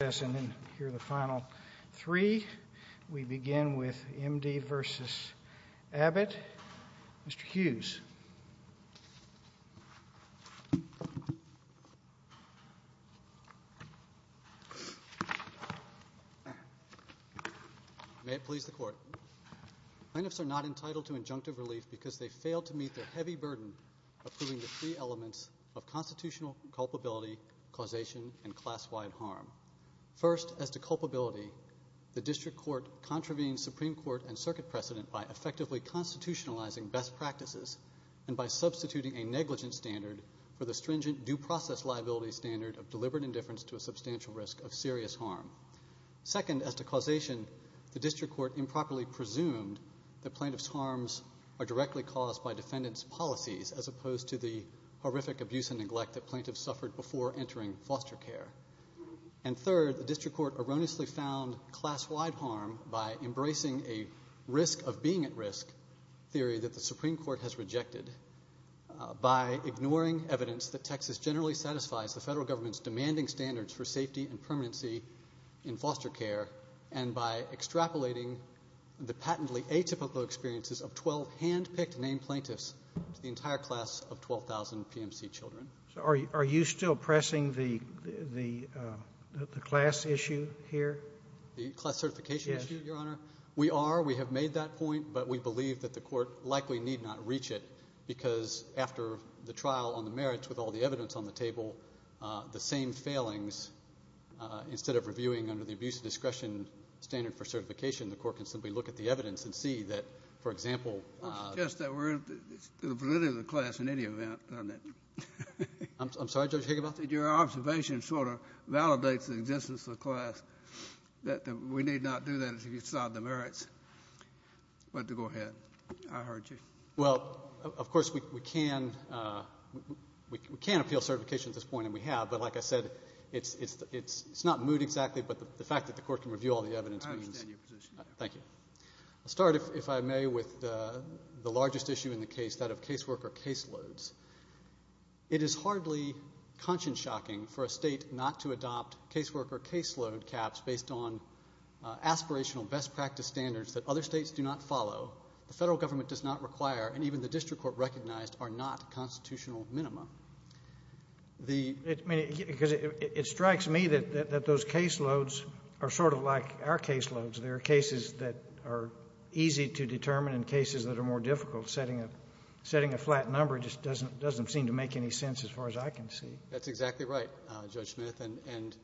May it please the Court, Plaintiffs are not entitled to injunctive relief because they failed to meet their heavy burden of proving the three elements of constitutional culpability, causation, and class-wide harm. First, as to culpability, the District Court contravened Supreme Court and Circuit precedent by effectively constitutionalizing best practices and by substituting a negligent standard for the stringent due process liability standard of deliberate indifference to a substantial risk of serious harm. Second, as to causation, the District Court improperly presumed that plaintiffs' harms are directly caused by defendants' policies as opposed to the horrific abuse and neglect that plaintiffs suffered before entering foster care. And third, the District Court erroneously found class-wide harm by embracing a risk of being at risk theory that the Supreme Court has rejected by ignoring evidence that Texas generally satisfies the federal government's demanding standards for safety and permanency in foster care and by extrapolating the patently atypical experiences of 12 hand-picked named plaintiffs to the entire class of 12,000 PMC children. So are you still pressing the class issue here? The class certification issue, Your Honor? Yes. We are. We have made that point, but we believe that the Court likely need not reach it because after the trial on the merits with all the evidence on the table, the same failings, instead of reviewing under the abuse of discretion standard for certification, the Court can simply look at the evidence and see that, for example — I don't suggest that we're in the validity of the class in any event, don't I? I'm sorry, Judge Higginbotham? That your observation sort of validates the existence of the class, that we need not do that if it's not on the merits. But to go ahead. I heard you. Well, of course, we can appeal certification at this point, and we have. But like I said, it's not moot exactly, but the fact that the Court can review all the evidence means — I understand your position. Thank you. I'll start, if I may, with the largest issue in the case, that of caseworker caseloads. It is hardly conscience-shocking for a State not to adopt caseworker caseload caps based on aspirational best practice standards that other States do not follow. The Federal Government does not require, and even the District Court recognized, are not constitutional minima. I mean, because it strikes me that those caseloads are sort of like our caseloads. There are cases that are easy to determine and cases that are more difficult. Setting a flat number just doesn't seem to make any sense as far as I can see. That's exactly right, Judge Smith. And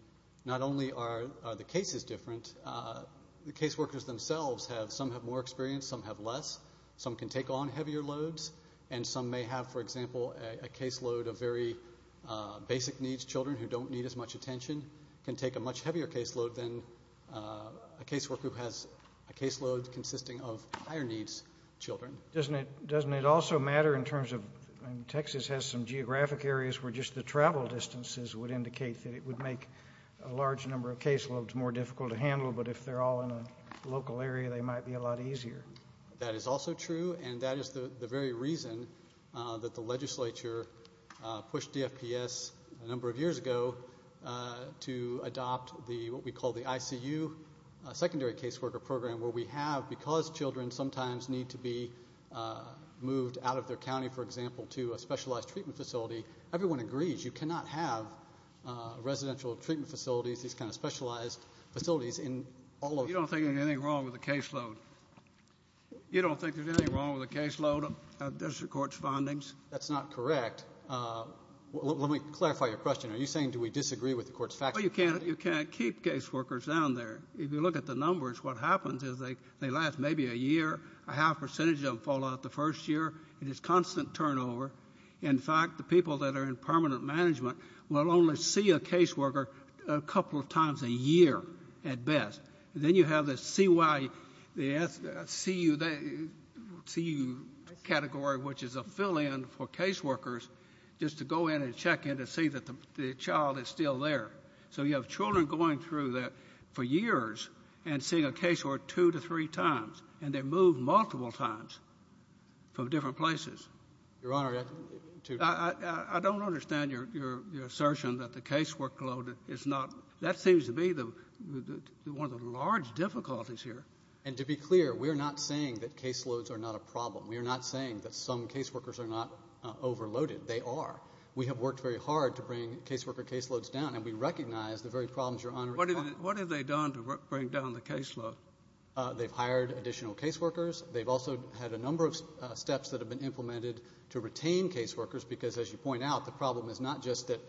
not only are the cases different, the caseworkers themselves have — some have more experience, some have less. Some can take on heavier loads, and some may have, for example, a caseload of very basic needs — children who don't need as much attention can take a much heavier caseload than a caseworker who has a caseload consisting of higher-needs children. Doesn't it also matter in terms of — and Texas has some geographic areas where just the travel distances would indicate that it would make a large number of caseloads more difficult to handle, but if they're all in a local area, they might be a lot easier. That is also true, and that is the very reason that the Legislature pushed DFPS a number of years ago to adopt the — what we call the ICU Secondary Caseworker Program, where we have — because children sometimes need to be moved out of their county, for example, to a specialized treatment facility, everyone agrees you cannot have residential treatment facilities, these kind of specialized facilities in all of — You don't think there's anything wrong with a caseload? You don't think there's anything wrong with a caseload of district court's findings? That's not correct. Let me clarify your question. Are you saying do we disagree with the court's facts? Well, you can't keep caseworkers down there. If you look at the numbers, what happens is they last maybe a year, a half percentage of them fall out the first year. It is constant turnover. In fact, the people that are in permanent management will only see a caseworker a couple of times a year at best. And then you have the CU category, which is a fill-in for caseworkers just to go in and check in to see that the child is still there. So you have children going through that for years and seeing a caseworker two to three times, and they move multiple times from different places. Your Honor, to — I don't understand your assertion that the casework load is not — that seems to be the — one of the large difficulties here. And to be clear, we are not saying that caseloads are not a problem. We are not saying that some caseworkers are not overloaded. They are. We have worked very hard to bring caseworker caseloads down, and we recognize the very problems Your Honor is talking about. What have they done to bring down the caseload? They've hired additional caseworkers. They've also had a number of steps that have been implemented to retain caseworkers because, as you point out, the problem is not just that,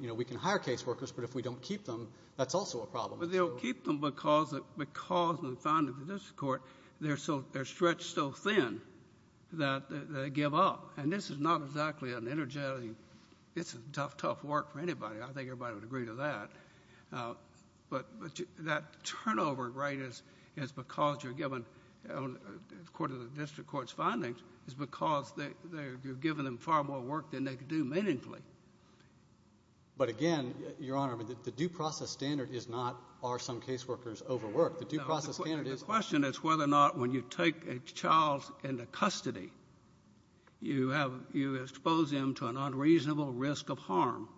you know, we can hire caseworkers, but if we don't keep them, that's also a problem. Well, they don't keep them because in the findings of the district court, they're so — they're stretched so thin that they give up. And this is not exactly an energetic — it's a tough, tough work for anybody. I think everybody would agree to that. But that turnover rate is because you're giving — according to the district court's findings, is because you're giving them far more work than they could do meaningfully. But again, Your Honor, the due process standard is not are some caseworkers overworked? The due process standard is — The question is whether or not when you take a child into custody, you have — you expose them to an unreasonable risk of harm.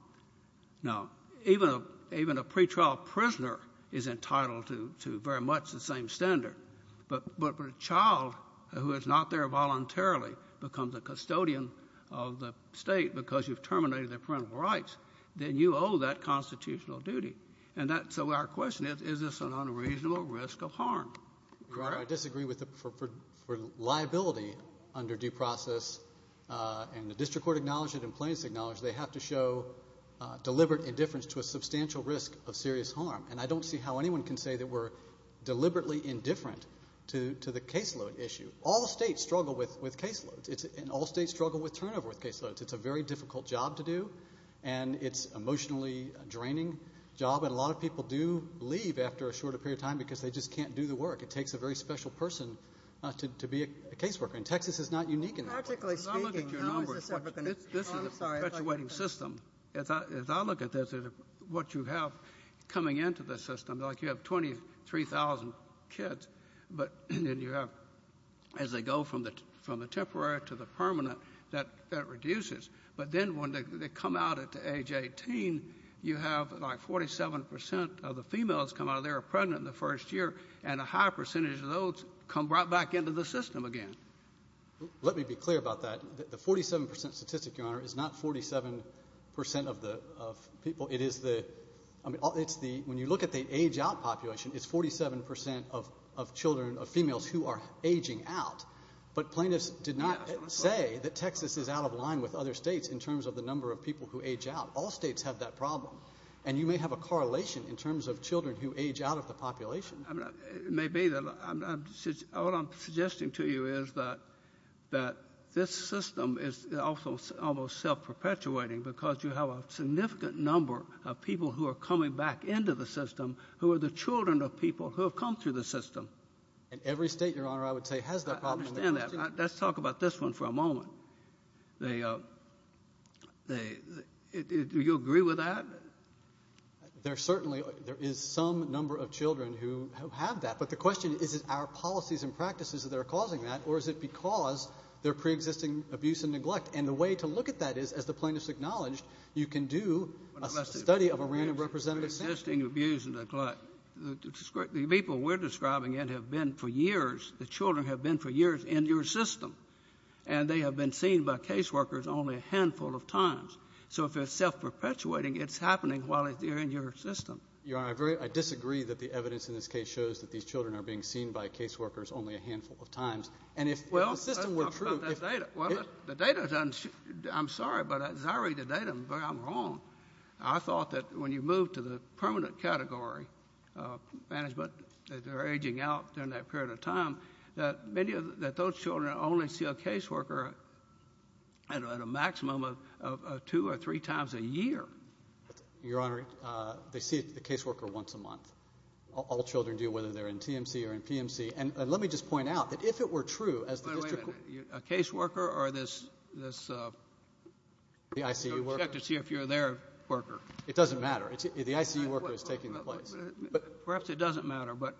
Now, even a pretrial prisoner is entitled to very much the same standard. But a child who is not there voluntarily becomes a custodian of the state because you've terminated their parental rights. Then you owe that constitutional duty. And that's — so our question is, is this an unreasonable risk of harm? Your Honor, I disagree with the — for liability under due process, and the district court acknowledged it and plaintiffs acknowledged it, they have to show deliberate indifference to a substantial risk of serious harm. And I don't see how anyone can say that we're deliberately indifferent to the caseload issue. All states struggle with caseloads. It's a very difficult job to do. And it's an emotionally draining job. And a lot of people do leave after a shorter period of time because they just can't do the work. It takes a very special person to be a caseworker. And Texas is not unique in that regard. Practically speaking — As I look at your numbers, this is a perpetuating system. Oh, I'm sorry. As I look at this, what you have coming into the system, like you have 23,000 kids, but then you have — as they go from the temporary to the permanent, that reduces. But then when they come out at age 18, you have like 47 percent of the females come out of there are pregnant in the first year, and a high percentage of those come right back into the system again. Let me be clear about that. The 47 percent statistic, Your Honor, is not 47 percent of the people. It is the — I mean, it's the — when you look at the age-out population, it's 47 percent of children, of females who are aging out. But plaintiffs did not say that Texas is out of line with other states in terms of the number of people who age out. All states have that problem. And you may have a correlation in terms of children who age out of the population. I mean, it may be that — what I'm suggesting to you is that this system is also almost self-perpetuating because you have a significant number of people who are coming back into the system who are the children of people who have come through the system. And every state, Your Honor, I would say has that problem. I understand that. Let's talk about this one for a moment. They — do you agree with that? There certainly — there is some number of children who have that. But the question is, is it our policies and practices that are causing that, or is it because there are preexisting abuse and neglect? And the way to look at that is, as the plaintiffs acknowledged, you can do a study of a random representative. Preexisting abuse and neglect. The people we're describing it have been for years — the children have been for years in your system. And they have been seen by caseworkers only a handful of times. So if it's self-perpetuating, it's happening while they're in your system. Your Honor, I disagree that the evidence in this case shows that these children are being seen by caseworkers only a handful of times. And if the system were true — Well, let's talk about that data. The data — I'm sorry, but as I read the data, I'm wrong. I thought that when you move to the permanent category management, that they're aging out during that period of time, that many of — that those children only see a caseworker at a maximum of two or three times a year. Your Honor, they see the caseworker once a month. All children do, whether they're in TMC or in PMC. And let me just point out that if it were true, as the — Wait a minute. A caseworker or this — The ICU worker? I'd like to see if you're their worker. It doesn't matter. The ICU worker is taking the place. Perhaps it doesn't matter, but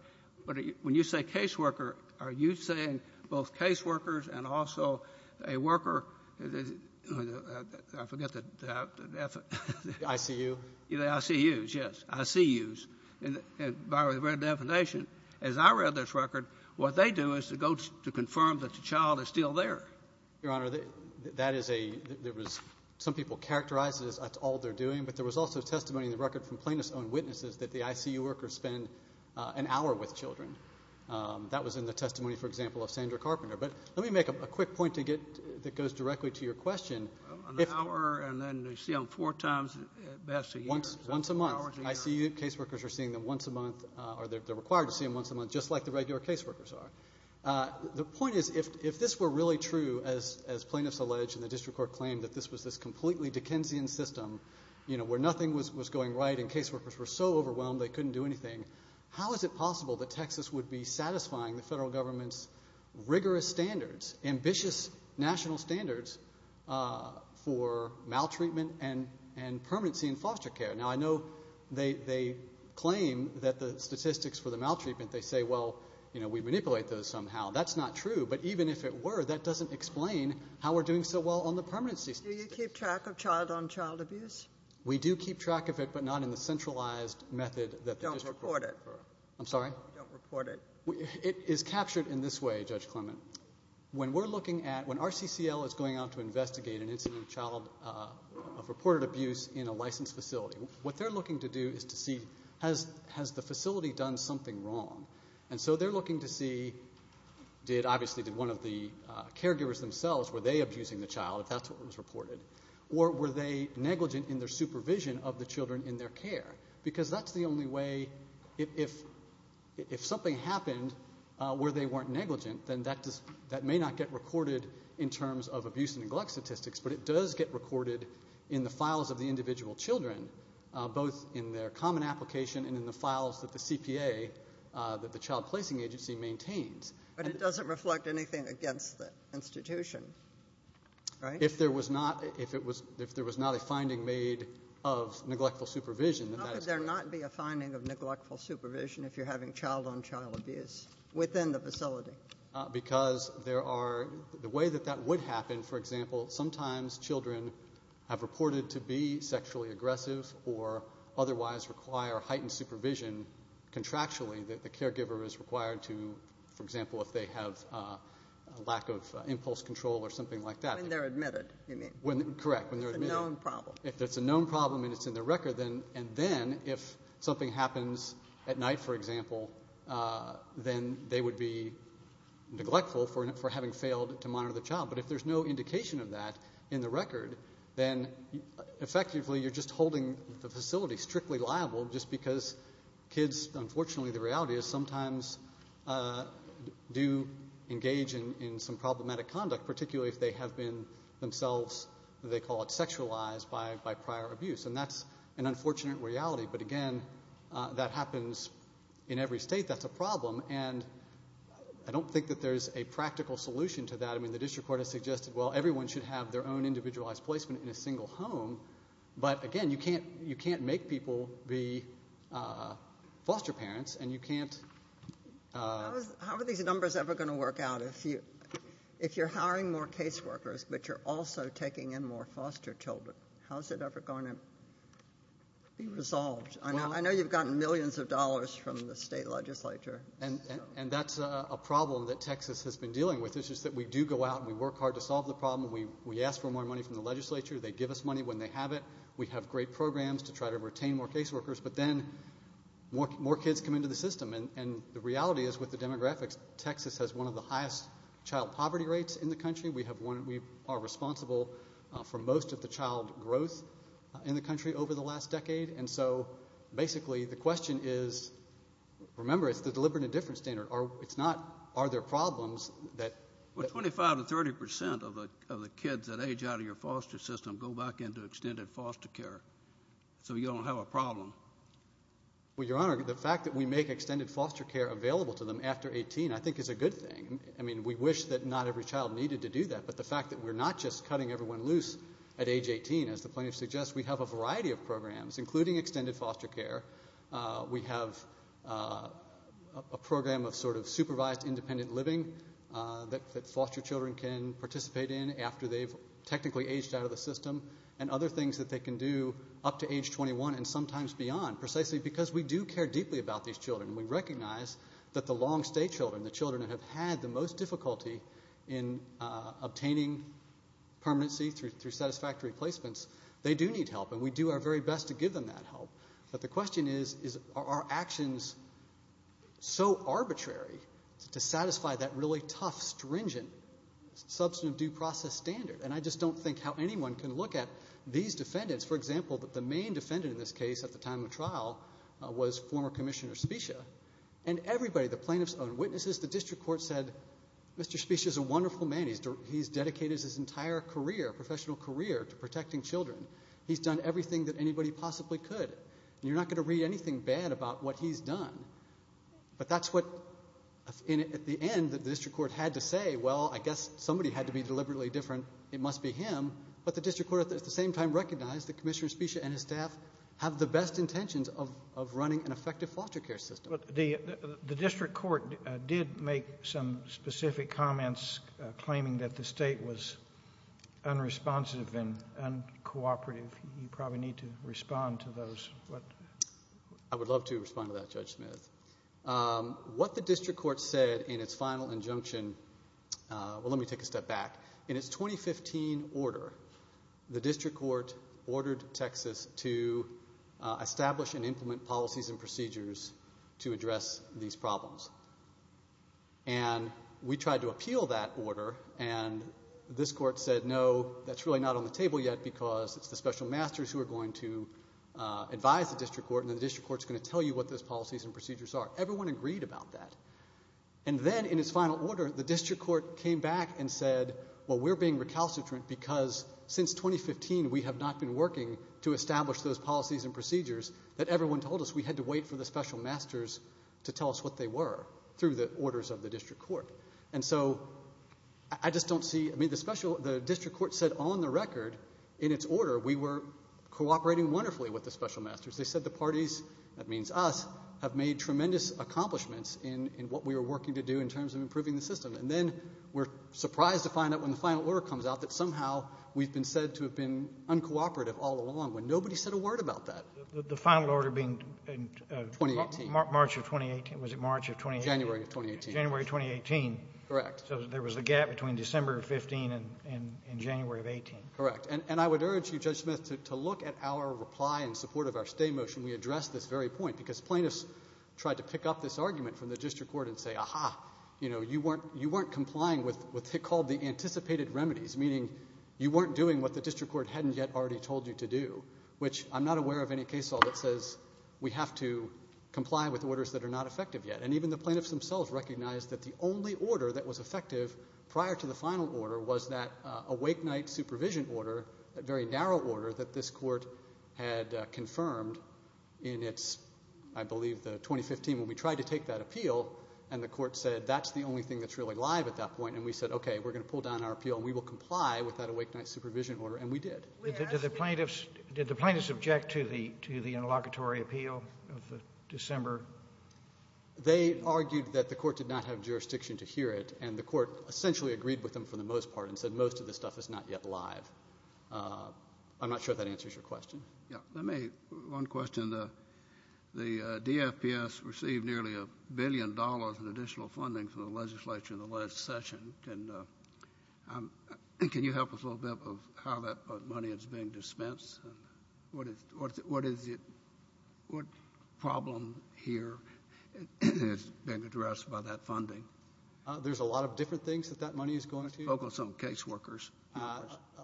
when you say caseworker, are you saying both caseworkers and also a worker — I forget the — The ICU? The ICUs, yes. ICUs. By the very definition, as I read this record, what they do is to go to confirm that the child is still there. Your Honor, that is a — there was — some people characterize it as that's all they're doing, but there was also testimony in the record from plaintiff's own witnesses that the ICU workers spend an hour with children. That was in the testimony, for example, of Sandra Carpenter. But let me make a quick point to get — that goes directly to your question. An hour, and then they see them four times at best a year. Once a month. ICU caseworkers are seeing them once a month, or they're required to see them once a month, just like the regular caseworkers are. The point is, if this were really true, as plaintiffs allege and the district court claimed, that this was this completely Dickensian system where nothing was going right and caseworkers were so overwhelmed they couldn't do anything, how is it possible that Texas would be satisfying the federal government's rigorous standards, ambitious national standards for maltreatment and permanency in foster care? Now, I know they claim that the statistics for the maltreatment, they say, well, you know, we manipulate those somehow. That's not true. But even if it were, that doesn't explain how we're doing so well on the permanency system. Do you keep track of child-on-child abuse? We do keep track of it, but not in the centralized method that the district court — Don't report it. I'm sorry? Don't report it. It is captured in this way, Judge Clement. When we're looking at — when RCCL is going out to investigate an incident of child — of reported abuse in a licensed facility, what they're looking to do is to see, has the facility done something wrong? And so they're looking to see, obviously, did one of the caregivers themselves, were they abusing the child, if that's what was reported, or were they negligent in their supervision of the children in their care? Because that's the only way — if something happened where they weren't negligent, then that may not get recorded in terms of abuse and neglect statistics, but it does get recorded in the files of the individual children, both in their common application and in the files that the CPA, that the Child Placing Agency, maintains. But it doesn't reflect anything against the institution, right? If there was not a finding made of neglectful supervision, then that is correct. How could there not be a finding of neglectful supervision if you're having child-on-child abuse within the facility? Because there are — the way that that would happen, for example, sometimes children have reported to be sexually aggressive or otherwise require heightened supervision contractually that the caregiver is required to, for example, if they have a lack of impulse control or something like that. When they're admitted, you mean? Correct, when they're admitted. It's a known problem. If it's a known problem and it's in their record, and then if something happens at night, for example, then they would be neglectful for having failed to monitor the child. But if there's no indication of that in the record, then effectively you're just holding the facility strictly liable just because kids, unfortunately, the reality is, sometimes do engage in some problematic conduct, particularly if they have been themselves — they call it sexualized by prior abuse. And that's an unfortunate reality. But, again, that happens in every state. That's a problem. And I don't think that there's a practical solution to that. I mean, the district court has suggested, well, everyone should have their own individualized placement in a single home. But, again, you can't make people be foster parents, and you can't— How are these numbers ever going to work out if you're hiring more caseworkers but you're also taking in more foster children? How is it ever going to be resolved? I know you've gotten millions of dollars from the state legislature. And that's a problem that Texas has been dealing with, which is that we do go out and we work hard to solve the problem. We ask for more money from the legislature. They give us money when they have it. We have great programs to try to retain more caseworkers. But then more kids come into the system. And the reality is, with the demographics, Texas has one of the highest child poverty rates in the country. We are responsible for most of the child growth in the country over the last decade. And so, basically, the question is, remember, it's the deliberate indifference standard. It's not are there problems that— Well, 25% to 30% of the kids that age out of your foster system go back into extended foster care, so you don't have a problem. Well, Your Honor, the fact that we make extended foster care available to them after 18, I think is a good thing. I mean, we wish that not every child needed to do that. But the fact that we're not just cutting everyone loose at age 18, as the plaintiff suggests, we have a variety of programs, including extended foster care. We have a program of sort of supervised independent living that foster children can participate in after they've technically aged out of the system and other things that they can do up to age 21 and sometimes beyond, precisely because we do care deeply about these children. We recognize that the long-stay children, the children that have had the most difficulty in obtaining permanency through satisfactory placements, they do need help. And we do our very best to give them that help. But the question is, are our actions so arbitrary to satisfy that really tough, stringent, substantive due process standard? And I just don't think how anyone can look at these defendants. For example, the main defendant in this case at the time of trial was former Commissioner Specia. And everybody, the plaintiffs and witnesses, the district court said, Mr. Specia is a wonderful man. He's dedicated his entire career, professional career, to protecting children. He's done everything that anybody possibly could. You're not going to read anything bad about what he's done. But that's what, at the end, the district court had to say, well, I guess somebody had to be deliberately different. It must be him. But the district court at the same time recognized that Commissioner Specia and his staff have the best intentions of running an effective foster care system. The district court did make some specific comments claiming that the state was unresponsive and uncooperative. You probably need to respond to those. I would love to respond to that, Judge Smith. What the district court said in its final injunction, well, let me take a step back. In its 2015 order, the district court ordered Texas to establish and implement policies and procedures to address these problems. And we tried to appeal that order, and this court said no, that's really not on the table yet because it's the special masters who are going to advise the district court, and the district court is going to tell you what those policies and procedures are. Everyone agreed about that. And then in its final order, the district court came back and said, well, we're being recalcitrant because since 2015 we have not been working to establish those policies and procedures that everyone told us. We had to wait for the special masters to tell us what they were through the orders of the district court. And so I just don't see, I mean, the district court said on the record in its order we were cooperating wonderfully with the special masters. They said the parties, that means us, have made tremendous accomplishments in what we were working to do in terms of improving the system. And then we're surprised to find out when the final order comes out that somehow we've been said to have been uncooperative all along when nobody said a word about that. The final order being March of 2018. Was it March of 2018? January of 2018. January of 2018. Correct. So there was a gap between December of 15 and January of 18. Correct. And I would urge you, Judge Smith, to look at our reply in support of our stay motion. We addressed this very point because plaintiffs tried to pick up this argument from the district court and say, ah-ha, you weren't complying with what they called the anticipated remedies, meaning you weren't doing what the district court hadn't yet already told you to do, which I'm not aware of any case law that says we have to comply with orders that are not effective yet. And even the plaintiffs themselves recognized that the only order that was effective prior to the final order was that awake night supervision order, a very narrow order that this court had confirmed in its, I believe, 2015 when we tried to take that appeal. And the court said that's the only thing that's really live at that point. And we said, okay, we're going to pull down our appeal and we will comply with that awake night supervision order. And we did. Did the plaintiffs object to the interlocutory appeal of December? They argued that the court did not have jurisdiction to hear it, and the court essentially agreed with them for the most part and said most of this stuff is not yet live. I'm not sure if that answers your question. Let me, one question. The DFPS received nearly a billion dollars in additional funding from the legislature in the last session. Can you help us a little bit of how that money is being dispensed? What problem here has been addressed by that funding? There's a lot of different things that that money is going to. Focus on caseworkers.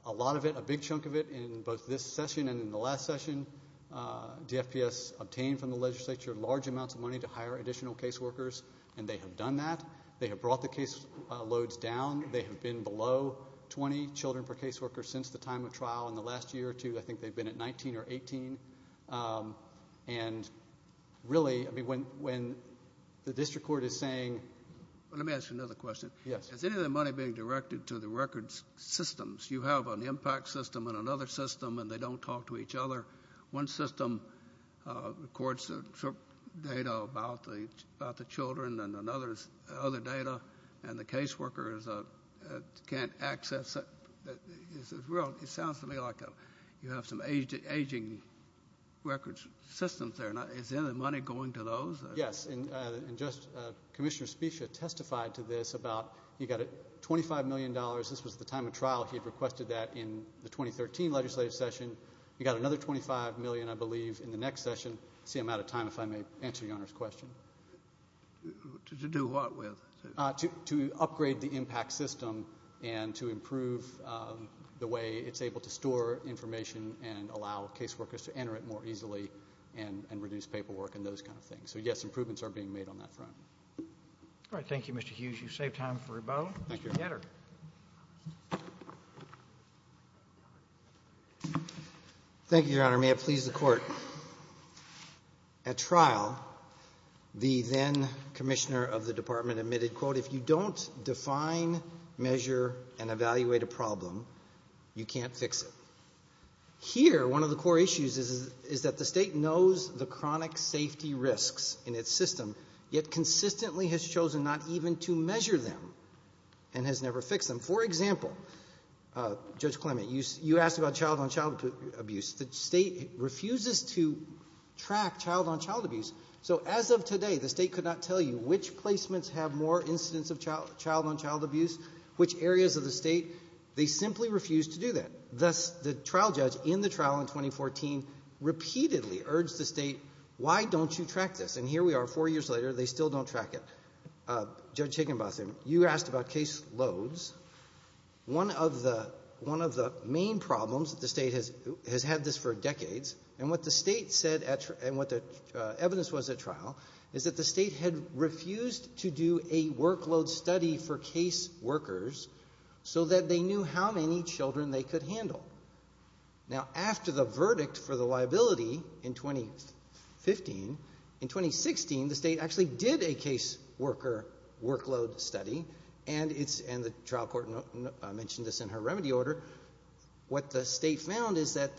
A lot of it, a big chunk of it, in both this session and in the last session, DFPS obtained from the legislature large amounts of money to hire additional caseworkers, and they have done that. They have brought the case loads down. They have been below 20 children per caseworker since the time of trial in the last year or two. I think they've been at 19 or 18. And really, I mean, when the district court is saying – Let me ask you another question. Yes. Is any of the money being directed to the records systems? You have an impact system and another system, and they don't talk to each other. One system records data about the children and other data, and the caseworkers can't access it. It sounds to me like you have some aging records systems there. Is any money going to those? Yes. Commissioner Specia testified to this about you've got $25 million. This was at the time of trial. He had requested that in the 2013 legislative session. He got another $25 million, I believe, in the next session. I see I'm out of time, if I may answer Your Honor's question. To do what with? To upgrade the impact system and to improve the way it's able to store information and allow caseworkers to enter it more easily and reduce paperwork and those kind of things. So, yes, improvements are being made on that front. All right. Thank you, Mr. Hughes. You've saved time for rebuttal. Thank you. Mr. Getter. Thank you, Your Honor. May it please the Court. At trial, the then commissioner of the department admitted, quote, if you don't define, measure, and evaluate a problem, you can't fix it. Here, one of the core issues is that the state knows the chronic safety risks in its system, yet consistently has chosen not even to measure them and has never fixed them. For example, Judge Clement, you asked about child-on-child abuse. The state refuses to track child-on-child abuse. So as of today, the state could not tell you which placements have more incidents of child-on-child abuse, which areas of the state. They simply refuse to do that. Thus, the trial judge in the trial in 2014 repeatedly urged the state, why don't you track this? And here we are, four years later, they still don't track it. Judge Higginbotham, you asked about case loads. One of the main problems that the state has had this for decades, and what the state said and what the evidence was at trial, is that the state had refused to do a workload study for case workers so that they knew how many children they could handle. Now, after the verdict for the liability in 2015, in 2016 the state actually did a case worker workload study, and the trial court mentioned this in her remedy order. What the state found is that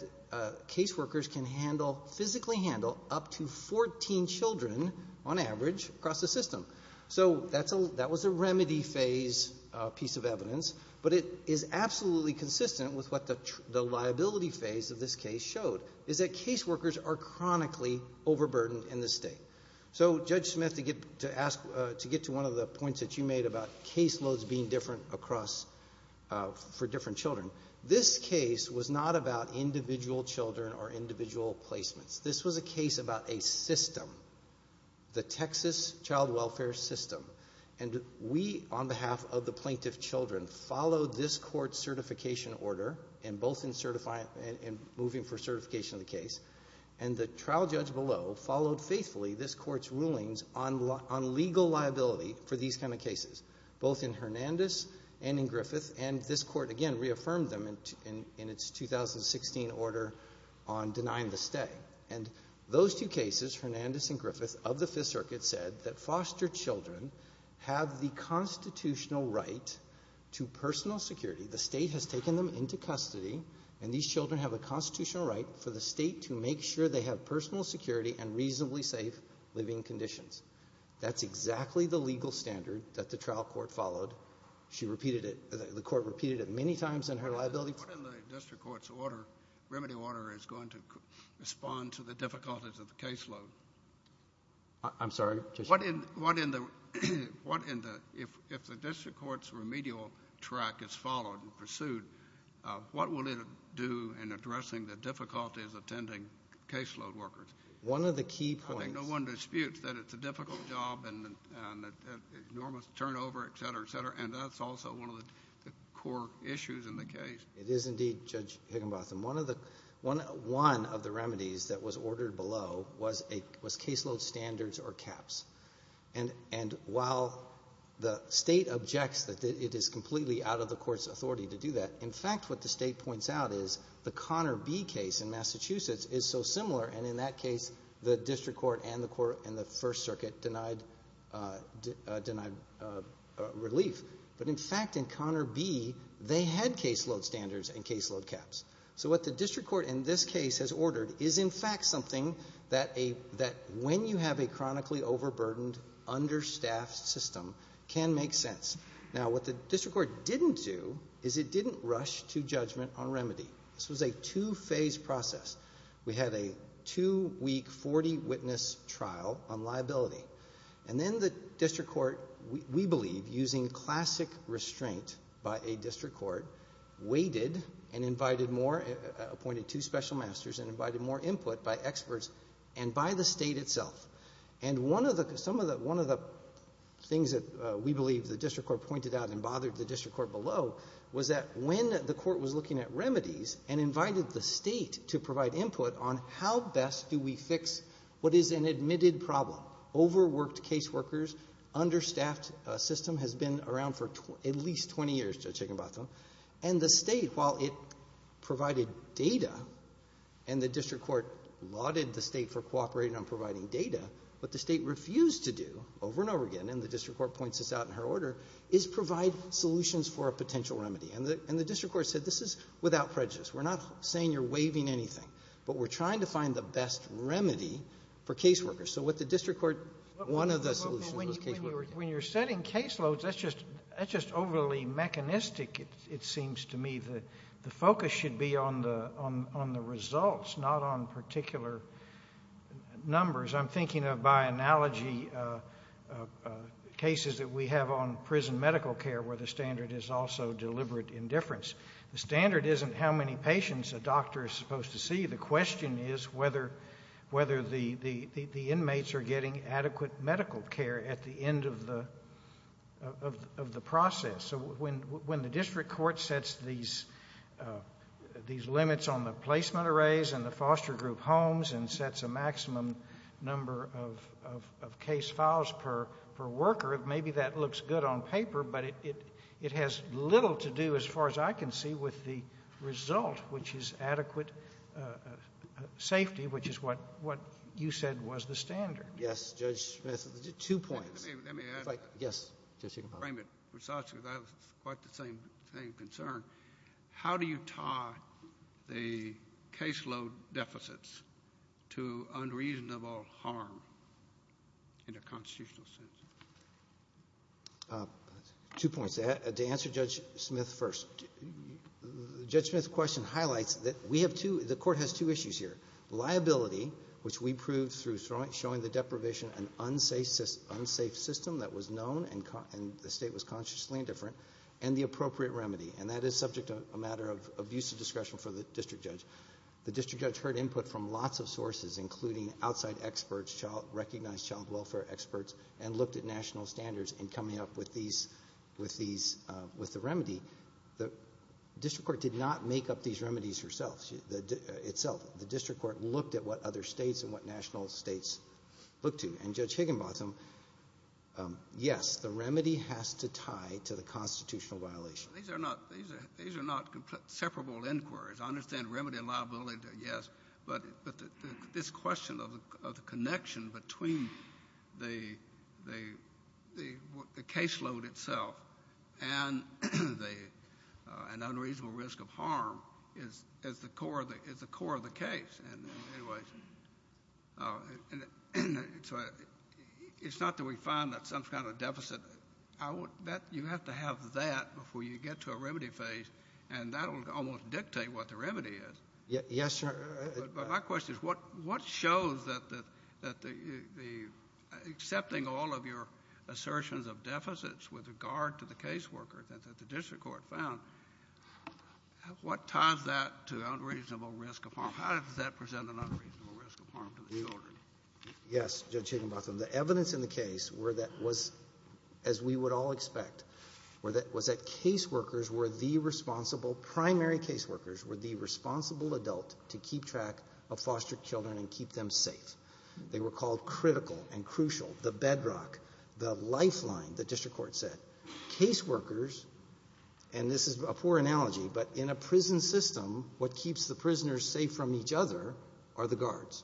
case workers can physically handle up to 14 children, on average, across the system. So that was a remedy phase piece of evidence, but it is absolutely consistent with what the liability phase of this case showed, is that case workers are chronically overburdened in the state. So, Judge Smith, to get to one of the points that you made about case loads being different for different children, this case was not about individual children or individual placements. This was a case about a system, the Texas child welfare system, and we, on behalf of the plaintiff's children, followed this court's certification order, both in moving for certification of the case, and the trial judge below followed faithfully this court's rulings on legal liability for these kind of cases, both in Hernandez and in Griffith, and this court, again, reaffirmed them in its 2016 order on denying the stay. And those two cases, Hernandez and Griffith, of the Fifth Circuit, said that foster children have the constitutional right to personal security. The state has taken them into custody, and these children have a constitutional right for the state to make sure they have personal security and reasonably safe living conditions. That's exactly the legal standard that the trial court followed. She repeated it. The court repeated it many times in her liability. What in the district court's order, remedy order is going to respond to the difficulties of the case load? I'm sorry? What in the, if the district court's remedial track is followed and pursued, what will it do in addressing the difficulties of attending caseload workers? One of the key points. I think no one disputes that it's a difficult job and enormous turnover, et cetera, et cetera, and that's also one of the core issues in the case. It is indeed, Judge Higginbotham. One of the remedies that was ordered below was caseload standards or caps. And while the state objects that it is completely out of the court's authority to do that, in fact what the state points out is the Connor B case in Massachusetts is so similar, and in that case the district court and the first circuit denied relief. But, in fact, in Connor B they had caseload standards and caseload caps. So what the district court in this case has ordered is, in fact, something that when you have a chronically overburdened understaffed system can make sense. Now, what the district court didn't do is it didn't rush to judgment on remedy. This was a two-phase process. We had a two-week, 40-witness trial on liability. And then the district court, we believe, using classic restraint by a district court, waited and invited more, appointed two special masters and invited more input by experts and by the state itself. And one of the things that we believe the district court pointed out and bothered the district court below was that when the court was looking at remedies and invited the state to provide input on how best do we fix what is an admitted problem overworked caseworkers, understaffed system has been around for at least 20 years, Judge Higginbotham. And the state, while it provided data and the district court lauded the state for cooperating on providing data, what the state refused to do over and over again, and the district court points this out in her order, is provide solutions for a potential remedy. And the district court said this is without prejudice. We're not saying you're waiving anything, but we're trying to find the best remedy for caseworkers. So with the district court, one of the solutions was caseworkers. When you're setting caseloads, that's just overly mechanistic, it seems to me. The focus should be on the results, not on particular numbers. I'm thinking of, by analogy, cases that we have on prison medical care where the standard is also deliberate indifference. The standard isn't how many patients a doctor is supposed to see. The question is whether the inmates are getting adequate medical care at the end of the process. So when the district court sets these limits on the placement arrays and the foster group homes and sets a maximum number of case files per worker, maybe that looks good on paper, but it has little to do, as far as I can see, with the result, which is adequate safety, which is what you said was the standard. Yes, Judge Smith. Two points. Let me add. Yes. I have quite the same concern. How do you tie the caseload deficits to unreasonable harm in a constitutional sense? Two points. To answer Judge Smith first, Judge Smith's question highlights that the court has two issues here. Liability, which we proved through showing the deprivation an unsafe system that was known and the state was consciously indifferent, and the appropriate remedy, and that is subject to a matter of abuse of discretion for the district judge. The district judge heard input from lots of sources, including outside experts, recognized child welfare experts, and looked at national standards in coming up with the remedy. The district court did not make up these remedies itself. The district court looked at what other states and what national states looked to, and Judge Higginbottom, yes, the remedy has to tie to the constitutional violation. These are not separable inquiries. I understand remedy and liability, yes, but this question of the connection between the caseload itself and unreasonable risk of harm is the core of the case. It's not that we find that some kind of deficit. You have to have that before you get to a remedy phase, and that will almost dictate what the remedy is. Yes, sir. But my question is what shows that accepting all of your assertions of deficits with regard to the caseworker that the district court found, what ties that to unreasonable risk of harm? How does that present an unreasonable risk of harm to the children? Yes, Judge Higginbottom, the evidence in the case, as we would all expect, was that caseworkers were the responsible, primary caseworkers, were the responsible adult to keep track of foster children and keep them safe. They were called critical and crucial, the bedrock, the lifeline, the district court said. Caseworkers, and this is a poor analogy, but in a prison system, what keeps the prisoners safe from each other are the guards,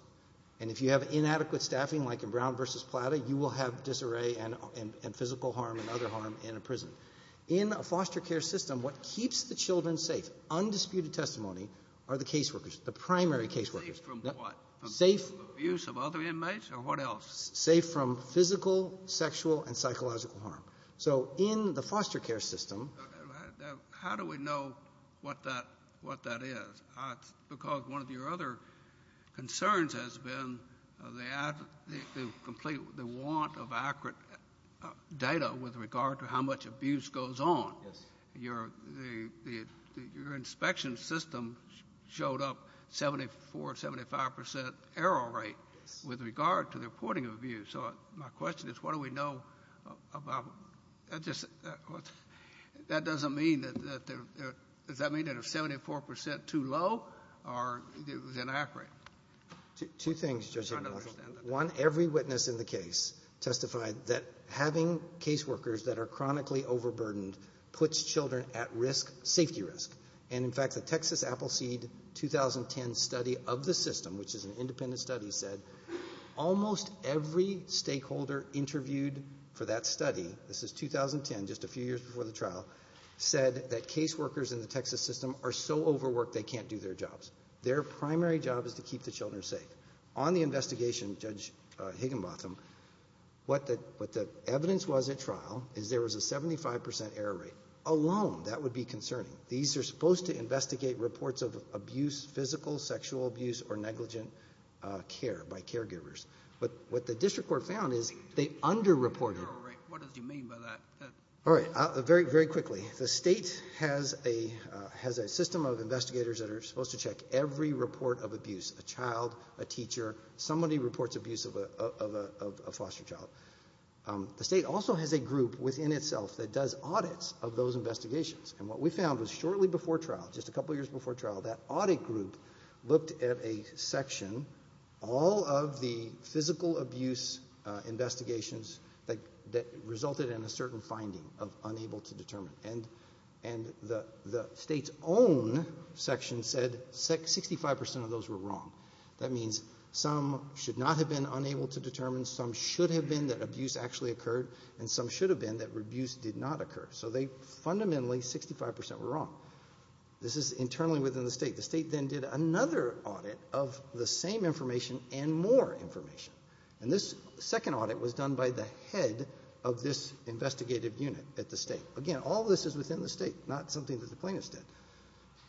and if you have inadequate staffing like in Brown v. Plata, you will have disarray and physical harm and other harm in a prison. In a foster care system, what keeps the children safe, undisputed testimony, are the caseworkers, the primary caseworkers. Safe from what? Safe. Abuse of other inmates or what else? Safe from physical, sexual, and psychological harm. So in the foster care system... How do we know what that is? Because one of your other concerns has been the want of accurate data with regard to how much abuse goes on. Your inspection system showed up 74%, 75% error rate with regard to the reporting of abuse. So my question is, what do we know about that? That doesn't mean that they're... Does that mean that they're 74% too low or inaccurate? Two things, Judge. One, every witness in the case testified that having caseworkers that are chronically overburdened puts children at risk, safety risk. And, in fact, the Texas Appleseed 2010 study of the system, which is an independent study, said almost every stakeholder interviewed for that study, this is 2010, just a few years before the trial, said that caseworkers in the Texas system are so overworked they can't do their jobs. Their primary job is to keep the children safe. On the investigation, Judge Higginbotham, what the evidence was at trial is there was a 75% error rate. Alone, that would be concerning. These are supposed to investigate reports of abuse, physical, sexual abuse, or negligent care by caregivers. But what the district court found is they underreported... Error rate, what does he mean by that? All right, very quickly. The state has a system of investigators that are supposed to check every report of abuse, a child, a teacher. Somebody reports abuse of a foster child. The state also has a group within itself that does audits of those investigations. And what we found was shortly before trial, just a couple years before trial, that audit group looked at a section, all of the physical abuse investigations that resulted in a certain finding of unable to determine. And the state's own section said 65% of those were wrong. That means some should not have been unable to determine, some should have been that abuse actually occurred, and some should have been that abuse did not occur. So they fundamentally, 65% were wrong. This is internally within the state. The state then did another audit of the same information and more information. And this second audit was done by the head of this investigative unit at the state. Again, all this is within the state, not something that the plaintiffs did.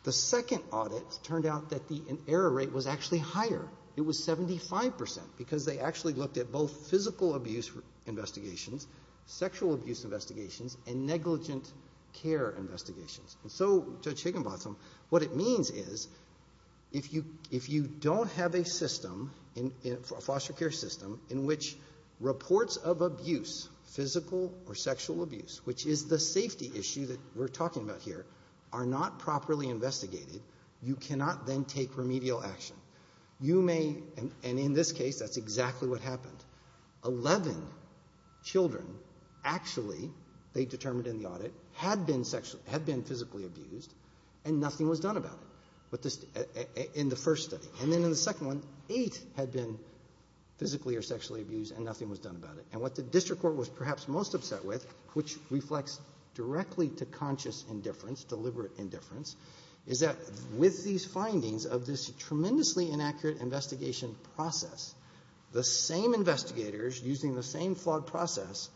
The second audit turned out that the error rate was actually higher. It was 75% because they actually looked at both physical abuse investigations, sexual abuse investigations, and negligent care investigations. And so, Judge Higginbotham, what it means is if you don't have a system, a foster care system in which reports of abuse, physical or sexual abuse, which is the safety issue that we're talking about here, are not properly investigated, you cannot then take remedial action. You may, and in this case, that's exactly what happened. Eleven children actually, they determined in the audit, had been sexually, had been physically abused and nothing was done about it in the first study. And then in the second one, eight had been physically or sexually abused and nothing was done about it. And what the district court was perhaps most upset with, which reflects directly to conscious indifference, deliberate indifference, is that with these findings of this tremendously inaccurate investigation process, the same investigators, using the same flawed process,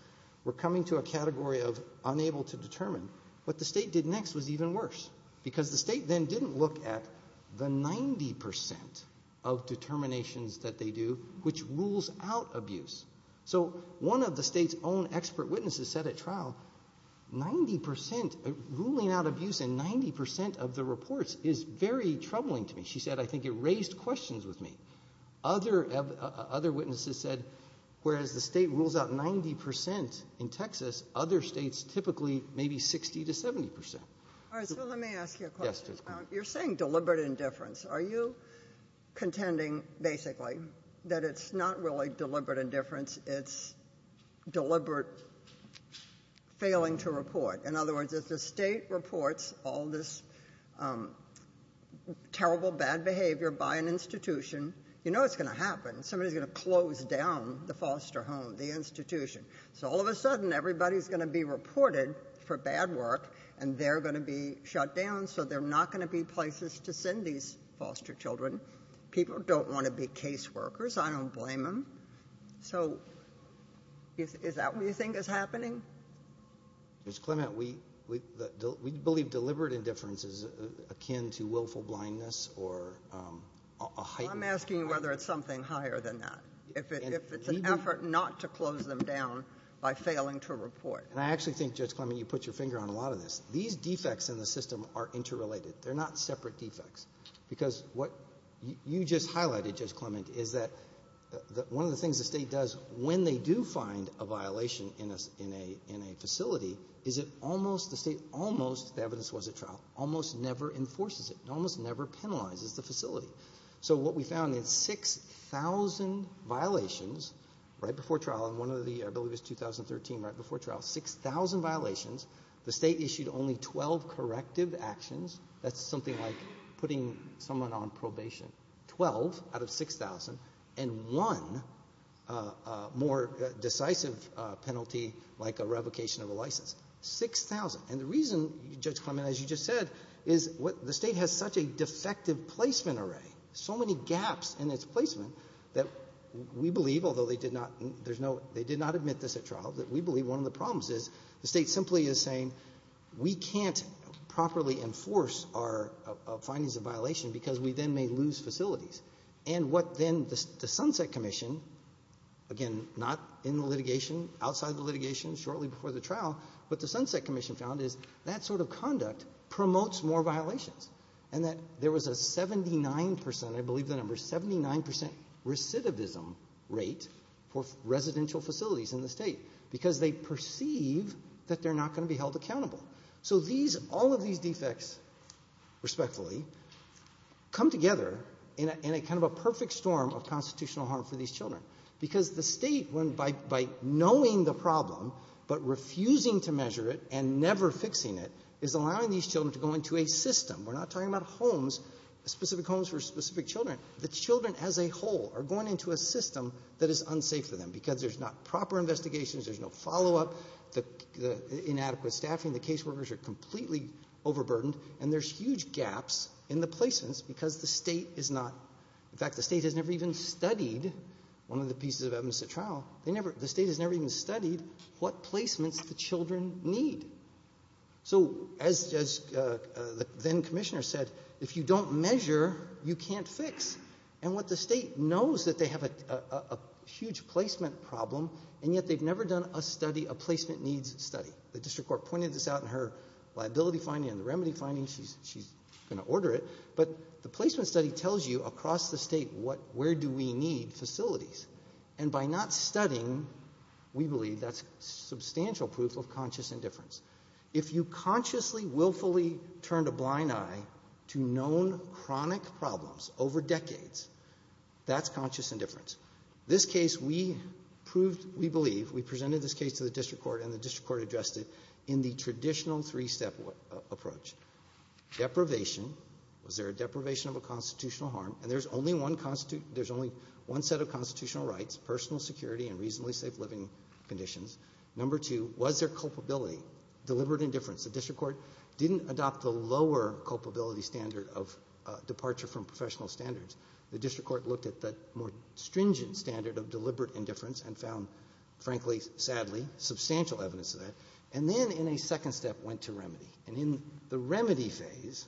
were coming to a category of unable to determine. What the state did next was even worse, because the state then didn't look at the 90% of determinations that they do, which rules out abuse. So one of the state's own expert witnesses said at trial, 90% ruling out abuse in 90% of the reports is very troubling to me. She said, I think it raised questions with me. Other witnesses said, whereas the state rules out 90% in Texas, other states typically maybe 60% to 70%. All right, so let me ask you a question. You're saying deliberate indifference. Are you contending, basically, that it's not really deliberate indifference, it's deliberate failing to report? In other words, if the state reports all this terrible bad behavior by an institution, you know what's going to happen. Somebody's going to close down the foster home, the institution. So all of a sudden, everybody's going to be reported for bad work, and they're going to be shut down, so there are not going to be places to send these foster children. People don't want to be caseworkers. I don't blame them. So is that what you think is happening? Judge Clement, we believe deliberate indifference is akin to willful blindness or a heightened... I'm asking you whether it's something higher than that, if it's an effort not to close them down by failing to report. And I actually think, Judge Clement, you put your finger on a lot of this. These defects in the system are interrelated. They're not separate defects. Because what you just highlighted, Judge Clement, is that one of the things the state does when they do find a violation in a facility is the state almost, the evidence was at trial, almost never enforces it. It almost never penalizes the facility. So what we found in 6,000 violations right before trial, and one of the, I believe it was 2013, right before trial, 6,000 violations, the state issued only 12 corrective actions. That's something like putting someone on probation, 12 out of 6,000, and one more decisive penalty like a revocation of a license, 6,000. And the reason, Judge Clement, as you just said, is the state has such a defective placement array, so many gaps in its placement, that we believe, although they did not admit this at trial, that we believe one of the problems is the state simply is saying we can't properly enforce our findings of violation because we then may lose facilities. And what then the Sunset Commission, again, not in the litigation, outside the litigation, shortly before the trial, what the Sunset Commission found is that sort of conduct promotes more violations, and that there was a 79 percent, I believe the number, 79 percent recidivism rate for residential facilities in the state because they perceive that they're not going to be held accountable. So all of these defects, respectfully, come together in kind of a perfect storm of constitutional harm for these children because the state, by knowing the problem but refusing to measure it and never fixing it, is allowing these children to go into a system. We're not talking about homes, specific homes for specific children. The children as a whole are going into a system that is unsafe for them because there's not proper investigations, there's no follow-up, inadequate staffing, the caseworkers are completely overburdened, and there's huge gaps in the placements because the state is not, in fact, the state has never even studied one of the pieces of evidence at trial. The state has never even studied what placements the children need. So as the then commissioner said, if you don't measure, you can't fix. And what the state knows is that they have a huge placement problem, and yet they've never done a placement needs study. The district court pointed this out in her liability finding and the remedy finding. She's going to order it. But the placement study tells you across the state where do we need facilities. And by not studying, we believe that's substantial proof of conscious indifference. If you consciously, willfully turned a blind eye to known chronic problems over decades, that's conscious indifference. This case, we proved, we believe, we presented this case to the district court and the district court addressed it in the traditional three-step approach. Deprivation, was there a deprivation of a constitutional harm? And there's only one set of constitutional rights, personal security and reasonably safe living conditions. Number two, was there culpability, deliberate indifference? The district court didn't adopt the lower culpability standard of departure from professional standards. The district court looked at the more stringent standard of deliberate indifference and found, frankly, sadly, substantial evidence of that. And then in a second step went to remedy. And in the remedy phase,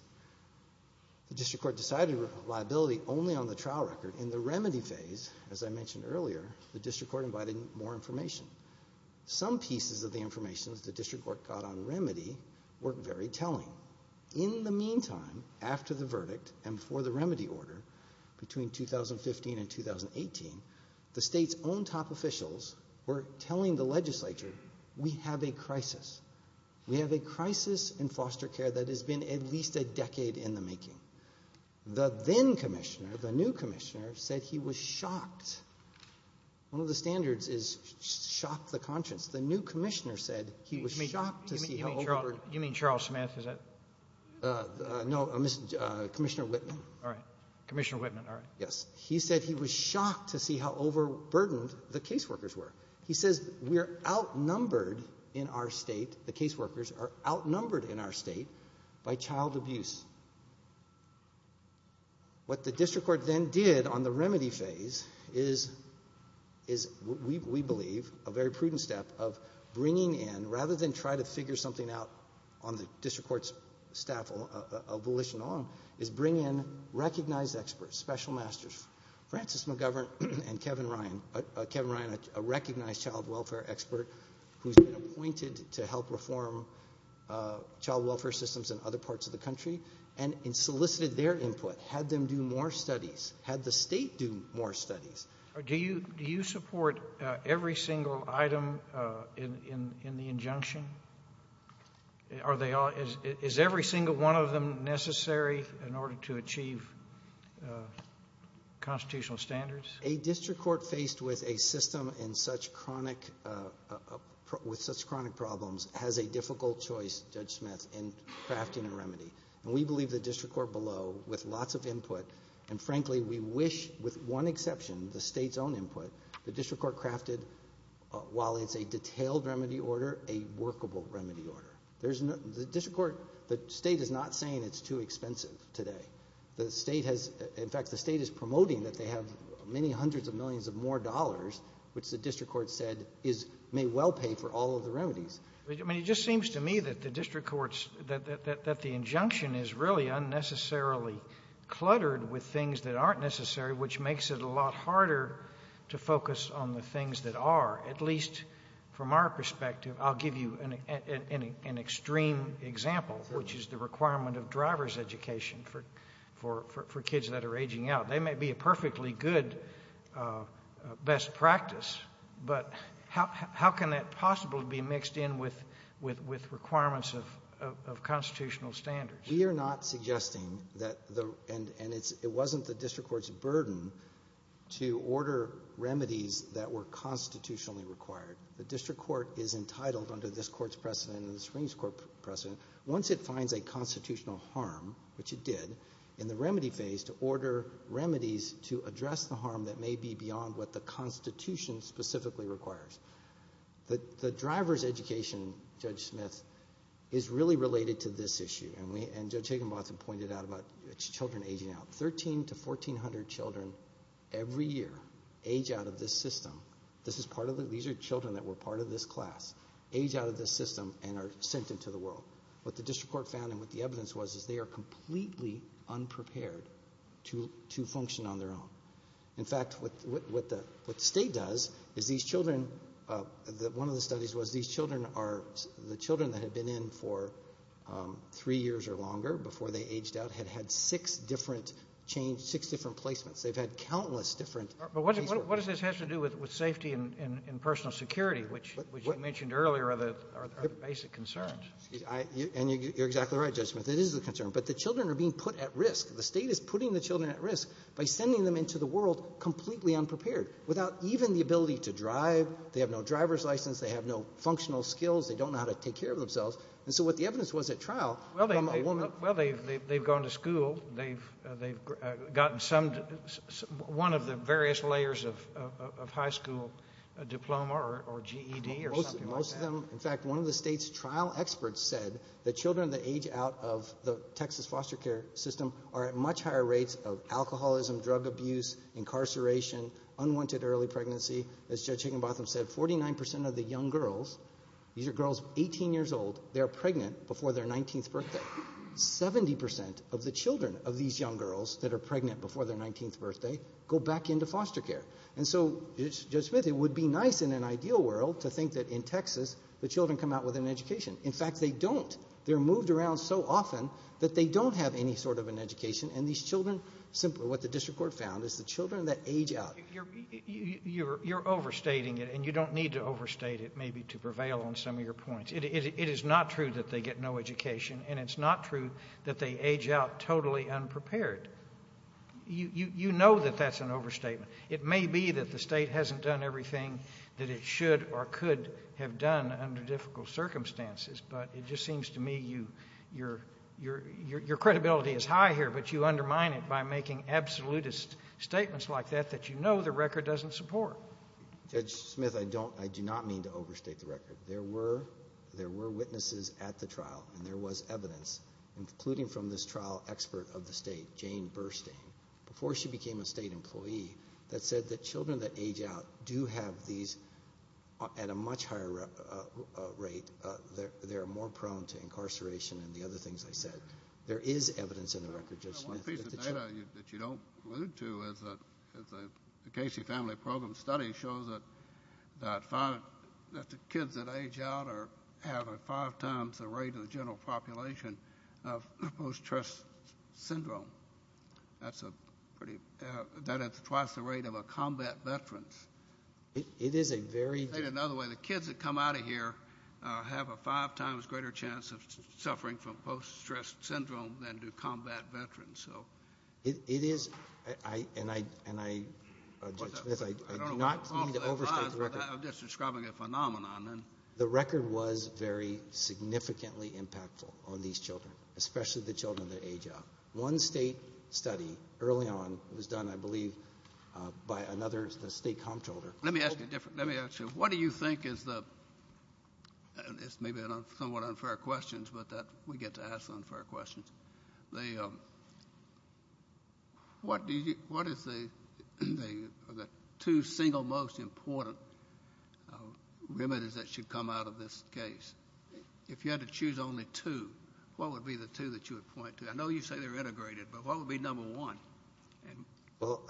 the district court decided liability only on the trial record. In the remedy phase, as I mentioned earlier, the district court invited more information. Some pieces of the information the district court got on remedy were very telling. In the meantime, after the verdict and before the remedy order, between 2015 and 2018, the state's own top officials were telling the legislature, we have a crisis. We have a crisis in foster care that has been at least a decade in the making. The then commissioner, the new commissioner, said he was shocked. One of the standards is shock the conscience. The new commissioner said he was shocked to see how overburdened. You mean Charles Smith, is that? No, Commissioner Whitman. All right. Commissioner Whitman, all right. Yes. He said he was shocked to see how overburdened the caseworkers were. He says we are outnumbered in our state, the caseworkers are outnumbered in our state, by child abuse. What the district court then did on the remedy phase is, we believe, a very prudent step of bringing in, rather than try to figure something out on the district court's staff abolition alone, is bring in recognized experts, special masters. Francis McGovern and Kevin Ryan, a recognized child welfare expert, who has been appointed to help reform child welfare systems in other parts of the country, and solicited their input, had them do more studies, had the state do more studies. Do you support every single item in the injunction? Is every single one of them necessary in order to achieve constitutional standards? A district court faced with a system with such chronic problems has a difficult choice, Judge Smith, in crafting a remedy. And we believe the district court below, with lots of input, and frankly, we wish, with one exception, the state's own input, the district court crafted, while it's a detailed remedy order, a workable remedy order. The district court, the state is not saying it's too expensive today. In fact, the state is promoting that they have many hundreds of millions of more dollars, which the district court said may well pay for all of the remedies. It just seems to me that the injunction is really unnecessarily cluttered with things that aren't necessary, which makes it a lot harder to focus on the things that are, at least from our perspective. I'll give you an extreme example, which is the requirement of driver's education for kids that are aging out. They may be a perfectly good best practice, but how can that possibly be mixed in with requirements of constitutional standards? We are not suggesting that, and it wasn't the district court's burden to order remedies that were constitutionally required. The district court is entitled under this court's precedent and the Supreme Court's precedent, once it finds a constitutional harm, which it did, in the remedy phase, to order remedies to address the harm that may be beyond what the Constitution specifically requires. The driver's education, Judge Smith, is really related to this issue, and Judge Higginbotham pointed out about children aging out. Thirteen to fourteen hundred children every year age out of this system. These are children that were part of this class, age out of this system, and are sent into the world. What the district court found and what the evidence was is they are completely unprepared to function on their own. In fact, what the state does is one of the studies was the children that had been in for three years or longer before they aged out had had six different placements. They've had countless different placements. But what does this have to do with safety and personal security, which you mentioned earlier are the basic concerns? You're exactly right, Judge Smith. It is a concern, but the children are being put at risk. The state is putting the children at risk by sending them into the world completely unprepared, without even the ability to drive. They have no driver's license. They have no functional skills. They don't know how to take care of themselves. And so what the evidence was at trial- Well, they've gone to school. They've gotten one of the various layers of high school diploma or GED or something like that. Most of them, in fact, one of the state's trial experts said that children that age out of the Texas foster care system are at much higher rates of alcoholism, drug abuse, incarceration, unwanted early pregnancy. As Judge Higginbotham said, 49% of the young girls, these are girls 18 years old, they are pregnant before their 19th birthday. 70% of the children of these young girls that are pregnant before their 19th birthday go back into foster care. And so, Judge Smith, it would be nice in an ideal world to think that in Texas the children come out with an education. In fact, they don't. They're moved around so often that they don't have any sort of an education. And these children, simply what the district court found, is the children that age out- You're overstating it, and you don't need to overstate it maybe to prevail on some of your points. It is not true that they get no education, and it's not true that they age out totally unprepared. You know that that's an overstatement. It may be that the state hasn't done everything that it should or could have done under difficult circumstances, but it just seems to me your credibility is high here, but you undermine it by making absolutist statements like that that you know the record doesn't support. Judge Smith, I do not mean to overstate the record. There were witnesses at the trial, and there was evidence, including from this trial expert of the state, Jane Burstein. Before she became a state employee, that said that children that age out do have these at a much higher rate. They're more prone to incarceration and the other things I said. There is evidence in the record, Judge Smith. One piece of data that you don't allude to is the Casey Family Program study shows that the kids that age out have five times the rate of the general population of post-stress syndrome. That's twice the rate of combat veterans. In another way, the kids that come out of here have a five times greater chance of suffering from post-stress syndrome than do combat veterans. It is, and I, Judge Smith, I do not mean to overstate the record. I'm just describing a phenomenon. The record was very significantly impactful on these children, especially the children that age out. One state study early on was done, I believe, by another state comptroller. Let me ask you a different, let me ask you, what do you think is the, this may be somewhat unfair questions, but we get to ask unfair questions. What is the two single most important remedies that should come out of this case? If you had to choose only two, what would be the two that you would point to? I know you say they're integrated, but what would be number one? Well,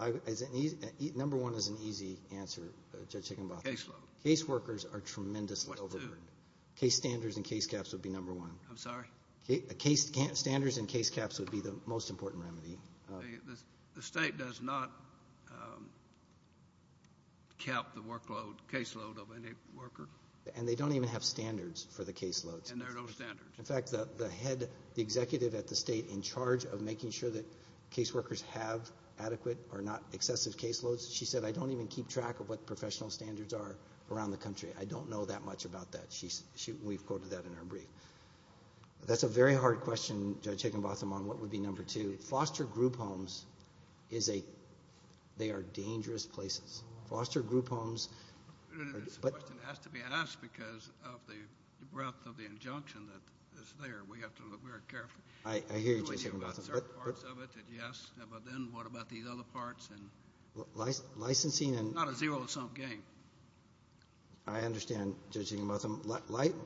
number one is an easy answer, Judge Higginbotham. Case load. Case workers are tremendously overburdened. What's two? Case standards and case caps would be number one. I'm sorry? Case standards and case caps would be the most important remedy. The state does not cap the workload, caseload of any worker. And they don't even have standards for the caseloads. And there are no standards. In fact, the head, the executive at the state in charge of making sure that case workers have adequate or not excessive caseloads, she said, I don't even keep track of what professional standards are around the country. I don't know that much about that. And we've quoted that in her brief. That's a very hard question, Judge Higginbotham, on what would be number two. Foster group homes, they are dangerous places. Foster group homes. This question has to be asked because of the breadth of the injunction that is there. We have to look very carefully. I hear you, Judge Higginbotham. Do we deal with certain parts of it? Yes. But then what about these other parts? Licensing and – It's not a zero-sum game. I understand, Judge Higginbotham.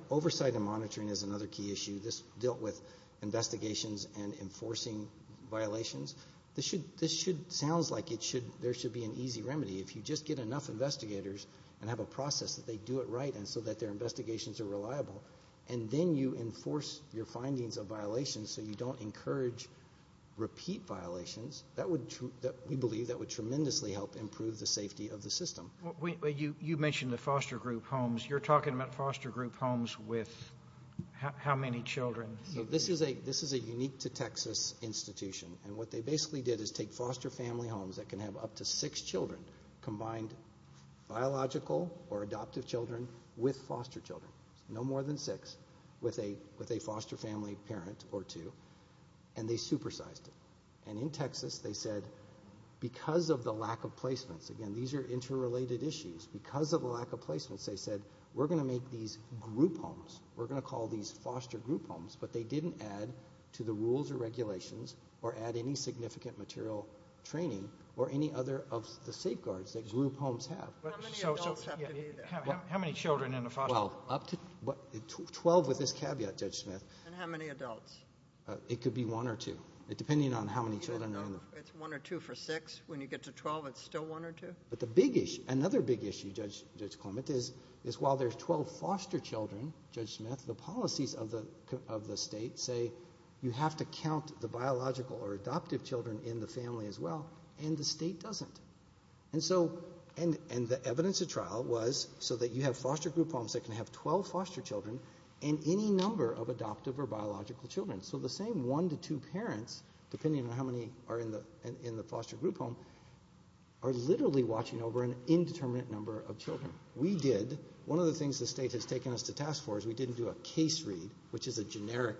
Oversight and monitoring is another key issue. This dealt with investigations and enforcing violations. This should – sounds like there should be an easy remedy. If you just get enough investigators and have a process that they do it right and so that their investigations are reliable, and then you enforce your findings of violations so you don't encourage repeat violations, we believe that would tremendously help improve the safety of the system. You mentioned the foster group homes. You're talking about foster group homes with how many children? This is a unique-to-Texas institution, and what they basically did is take foster family homes that can have up to six children, combined biological or adoptive children with foster children, no more than six, with a foster family parent or two, and they supersized it. And in Texas, they said because of the lack of placements – again, these are interrelated issues – because of the lack of placements, they said we're going to make these group homes. We're going to call these foster group homes. But they didn't add to the rules or regulations or add any significant material training or any other of the safeguards that group homes have. How many adults have to be there? How many children in a foster home? Twelve, with this caveat, Judge Smith. And how many adults? It could be one or two, depending on how many children are in there. It's one or two for six. When you get to 12, it's still one or two? But the big issue, another big issue, Judge Clement, is while there's 12 foster children, Judge Smith, the policies of the state say you have to count the biological or adoptive children in the family as well, and the state doesn't. And the evidence of trial was so that you have foster group homes that can have 12 foster children and any number of adoptive or biological children. So the same one to two parents, depending on how many are in the foster group home, are literally watching over an indeterminate number of children. We did. One of the things the state has taken us to task for is we didn't do a case read, which is a generic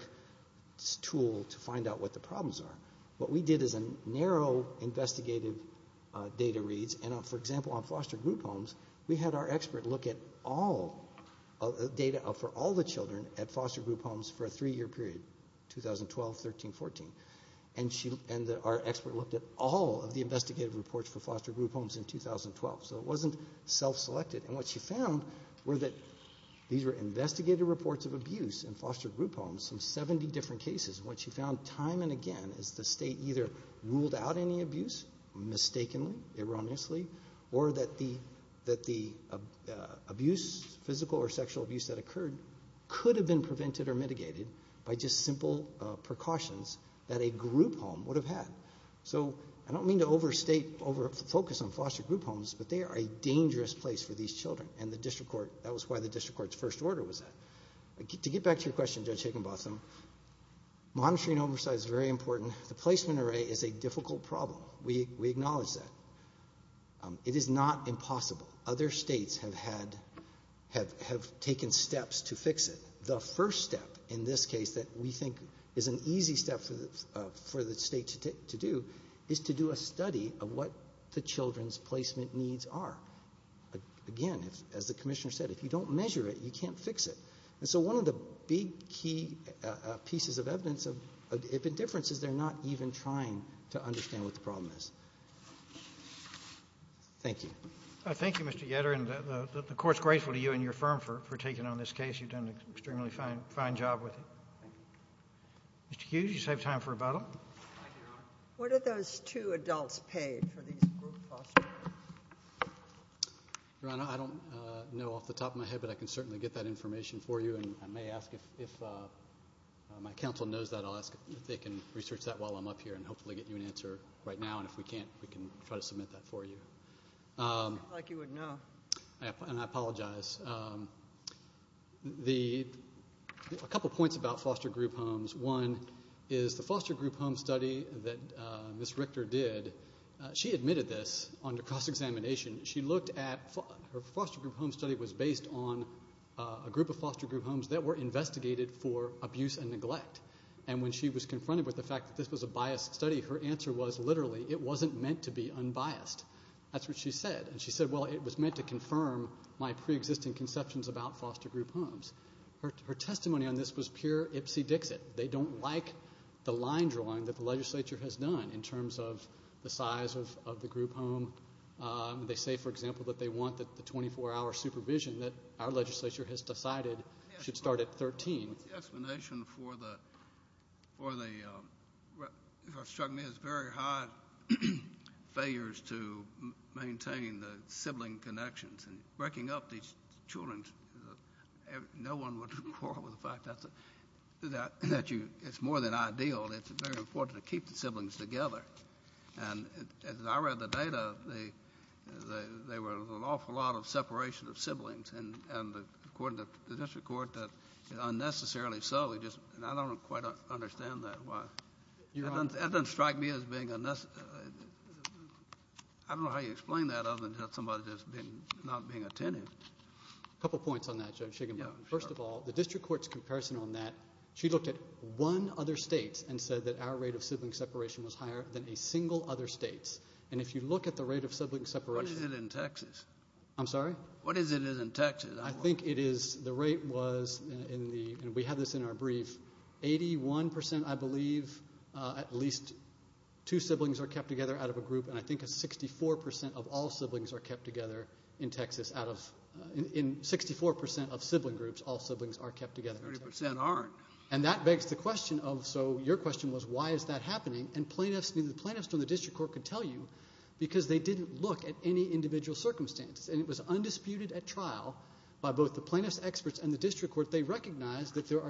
tool to find out what the problems are. What we did is a narrow investigative data read. And, for example, on foster group homes, we had our expert look at data for all the children at foster group homes for a three-year period, 2012, 13, 14. And our expert looked at all of the investigative reports for foster group homes in 2012. So it wasn't self-selected. And what she found were that these were investigative reports of abuse in foster group homes, some 70 different cases. And what she found time and again is the state either ruled out any abuse, mistakenly, erroneously, or that the abuse, physical or sexual abuse that occurred, could have been prevented or mitigated by just simple precautions that a group home would have had. So I don't mean to overstate, over-focus on foster group homes, but they are a dangerous place for these children. And that was why the district court's first order was that. To get back to your question, Judge Higginbotham, monitoring and oversight is very important. The placement array is a difficult problem. We acknowledge that. It is not impossible. Other states have taken steps to fix it. The first step in this case that we think is an easy step for the state to do is to do a study of what the children's placement needs are. Again, as the Commissioner said, if you don't measure it, you can't fix it. And so one of the big, key pieces of evidence of indifference is they're not even trying to understand what the problem is. Thank you. Thank you, Mr. Yetter. And the Court's grateful to you and your firm for taking on this case. You've done an extremely fine job with it. Mr. Hughes, you save time for rebuttal. Thank you, Your Honor. What do those two adults pay for these group foster homes? Your Honor, I don't know off the top of my head, but I can certainly get that information for you. And I may ask if my counsel knows that, I'll ask if they can research that while I'm up here and hopefully get you an answer right now. And if we can't, we can try to submit that for you. Like you would know. And I apologize. A couple points about foster group homes. One is the foster group home study that Ms. Richter did, she admitted this under cross-examination. Her foster group home study was based on a group of foster group homes that were investigated for abuse and neglect. And when she was confronted with the fact that this was a biased study, her answer was literally, it wasn't meant to be unbiased. That's what she said. And she said, well, it was meant to confirm my preexisting conceptions about foster group homes. Her testimony on this was pure ipsy-dixit. They don't like the line drawing that the legislature has done in terms of the size of the group home. They say, for example, that they want the 24-hour supervision that our legislature has decided should start at 13. What's the explanation for the very high failures to maintain the sibling connections and breaking up these children? No one would quarrel with the fact that it's more than ideal. It's very important to keep the siblings together. And as I read the data, there was an awful lot of separation of siblings, and according to the district court, unnecessarily so. I don't quite understand that. That doesn't strike me as being unnecessary. I don't know how you explain that other than somebody just not being attentive. A couple points on that, Judge Shiginbarton. First of all, the district court's comparison on that, she looked at one other state and said that our rate of sibling separation was higher than a single other state's. And if you look at the rate of sibling separation. What is it in Texas? I'm sorry? What is it in Texas? I think the rate was, and we have this in our brief, 81%, I believe, at least two siblings are kept together out of a group, and I think 64% of all siblings are kept together in Texas. In 64% of sibling groups, all siblings are kept together. 30% aren't. And that begs the question of, so your question was, why is that happening? And the plaintiffs in the district court could tell you because they didn't look at any individual circumstances, and it was undisputed at trial by both the plaintiffs' experts and the district court. They recognized that there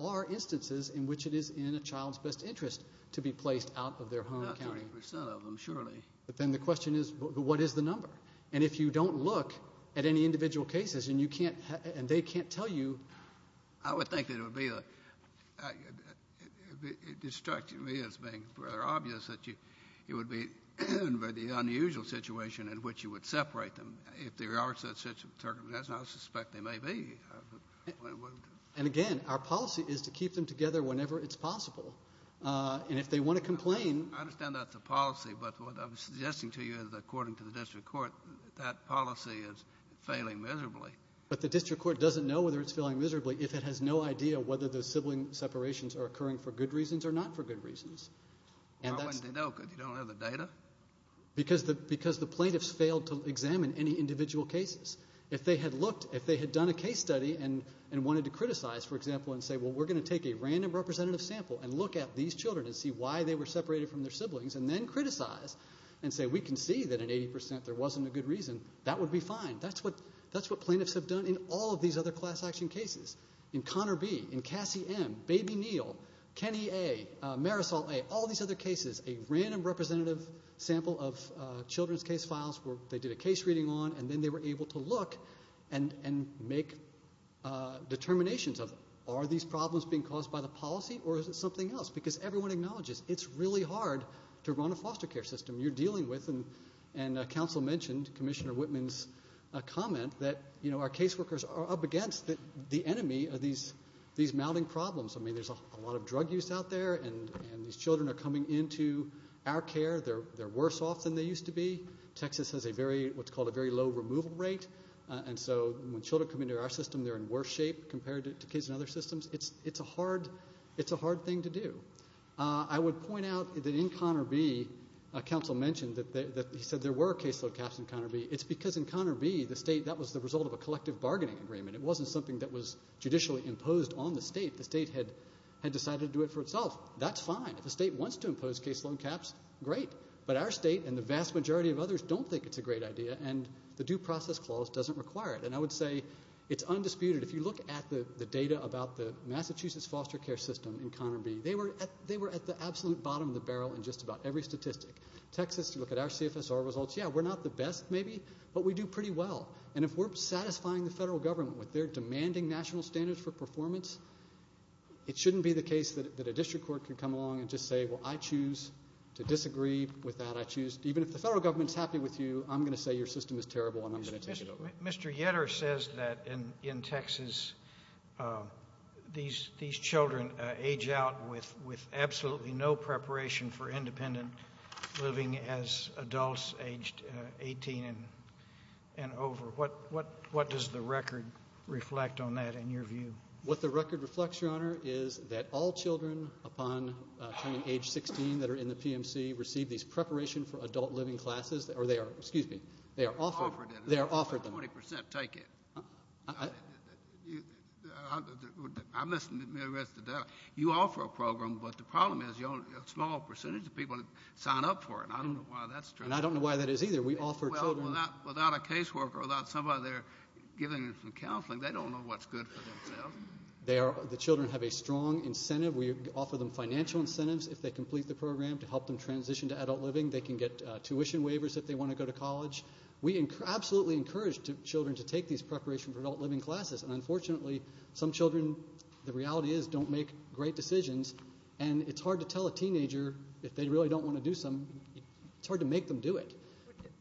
are instances in which it is in a child's best interest to be placed out of their home county. Not 30% of them, surely. But then the question is, what is the number? And if you don't look at any individual cases and they can't tell you. I would think that it would be, it strikes me as being rather obvious, that it would be the unusual situation in which you would separate them. If there are such circumstances, I suspect there may be. And, again, our policy is to keep them together whenever it's possible. And if they want to complain. I understand that's a policy, but what I'm suggesting to you is, according to the district court, that policy is failing miserably. But the district court doesn't know whether it's failing miserably if it has no idea whether the sibling separations are occurring for good reasons or not for good reasons. Why wouldn't they know, because you don't have the data? Because the plaintiffs failed to examine any individual cases. If they had looked, if they had done a case study and wanted to criticize, for example, and say, well, we're going to take a random representative sample and look at these children and see why they were separated from their siblings and then criticize and say, we can see that in 80% there wasn't a good reason, that would be fine. That's what plaintiffs have done in all of these other class action cases. In Connor B., in Cassie M., Baby Neal, Kenny A., Marisol A., all these other cases, a random representative sample of children's case files where they did a case reading on and then they were able to look and make determinations of, are these problems being caused by the policy or is it something else? Because everyone acknowledges it's really hard to run a foster care system. You're dealing with, and counsel mentioned, Commissioner Whitman's comment, that our caseworkers are up against the enemy of these mounting problems. I mean, there's a lot of drug use out there, and these children are coming into our care. They're worse off than they used to be. Texas has what's called a very low removal rate, and so when children come into our system, they're in worse shape compared to kids in other systems. It's a hard thing to do. I would point out that in Connor B., counsel mentioned that he said there were caseload caps in Connor B. It's because in Connor B., the state, that was the result of a collective bargaining agreement. It wasn't something that was judicially imposed on the state. The state had decided to do it for itself. That's fine. If the state wants to impose caseload caps, great. But our state and the vast majority of others don't think it's a great idea, and the due process clause doesn't require it. And I would say it's undisputed. If you look at the data about the Massachusetts foster care system in Connor B., they were at the absolute bottom of the barrel in just about every statistic. Texas, if you look at our CFSR results, yeah, we're not the best maybe, but we do pretty well. And if we're satisfying the federal government with their demanding national standards for performance, it shouldn't be the case that a district court can come along and just say, well, I choose to disagree with that. Even if the federal government's happy with you, I'm going to say your system is terrible and I'm going to take it over. Mr. Yetter says that in Texas these children age out with absolutely no preparation for independent living as adults aged 18 and over. What does the record reflect on that in your view? What the record reflects, Your Honor, is that all children upon turning age 16 that are in the PMC receive these preparation for adult living classes, or they are offered them. 20 percent, take it. You offer a program, but the problem is a small percentage of people sign up for it. I don't know why that's true. And I don't know why that is either. Without a caseworker or without somebody there giving them some counseling, they don't know what's good for themselves. The children have a strong incentive. We offer them financial incentives if they complete the program to help them transition to adult living. They can get tuition waivers if they want to go to college. We absolutely encourage children to take these preparation for adult living classes, and unfortunately some children, the reality is, don't make great decisions, and it's hard to tell a teenager if they really don't want to do some. It's hard to make them do it.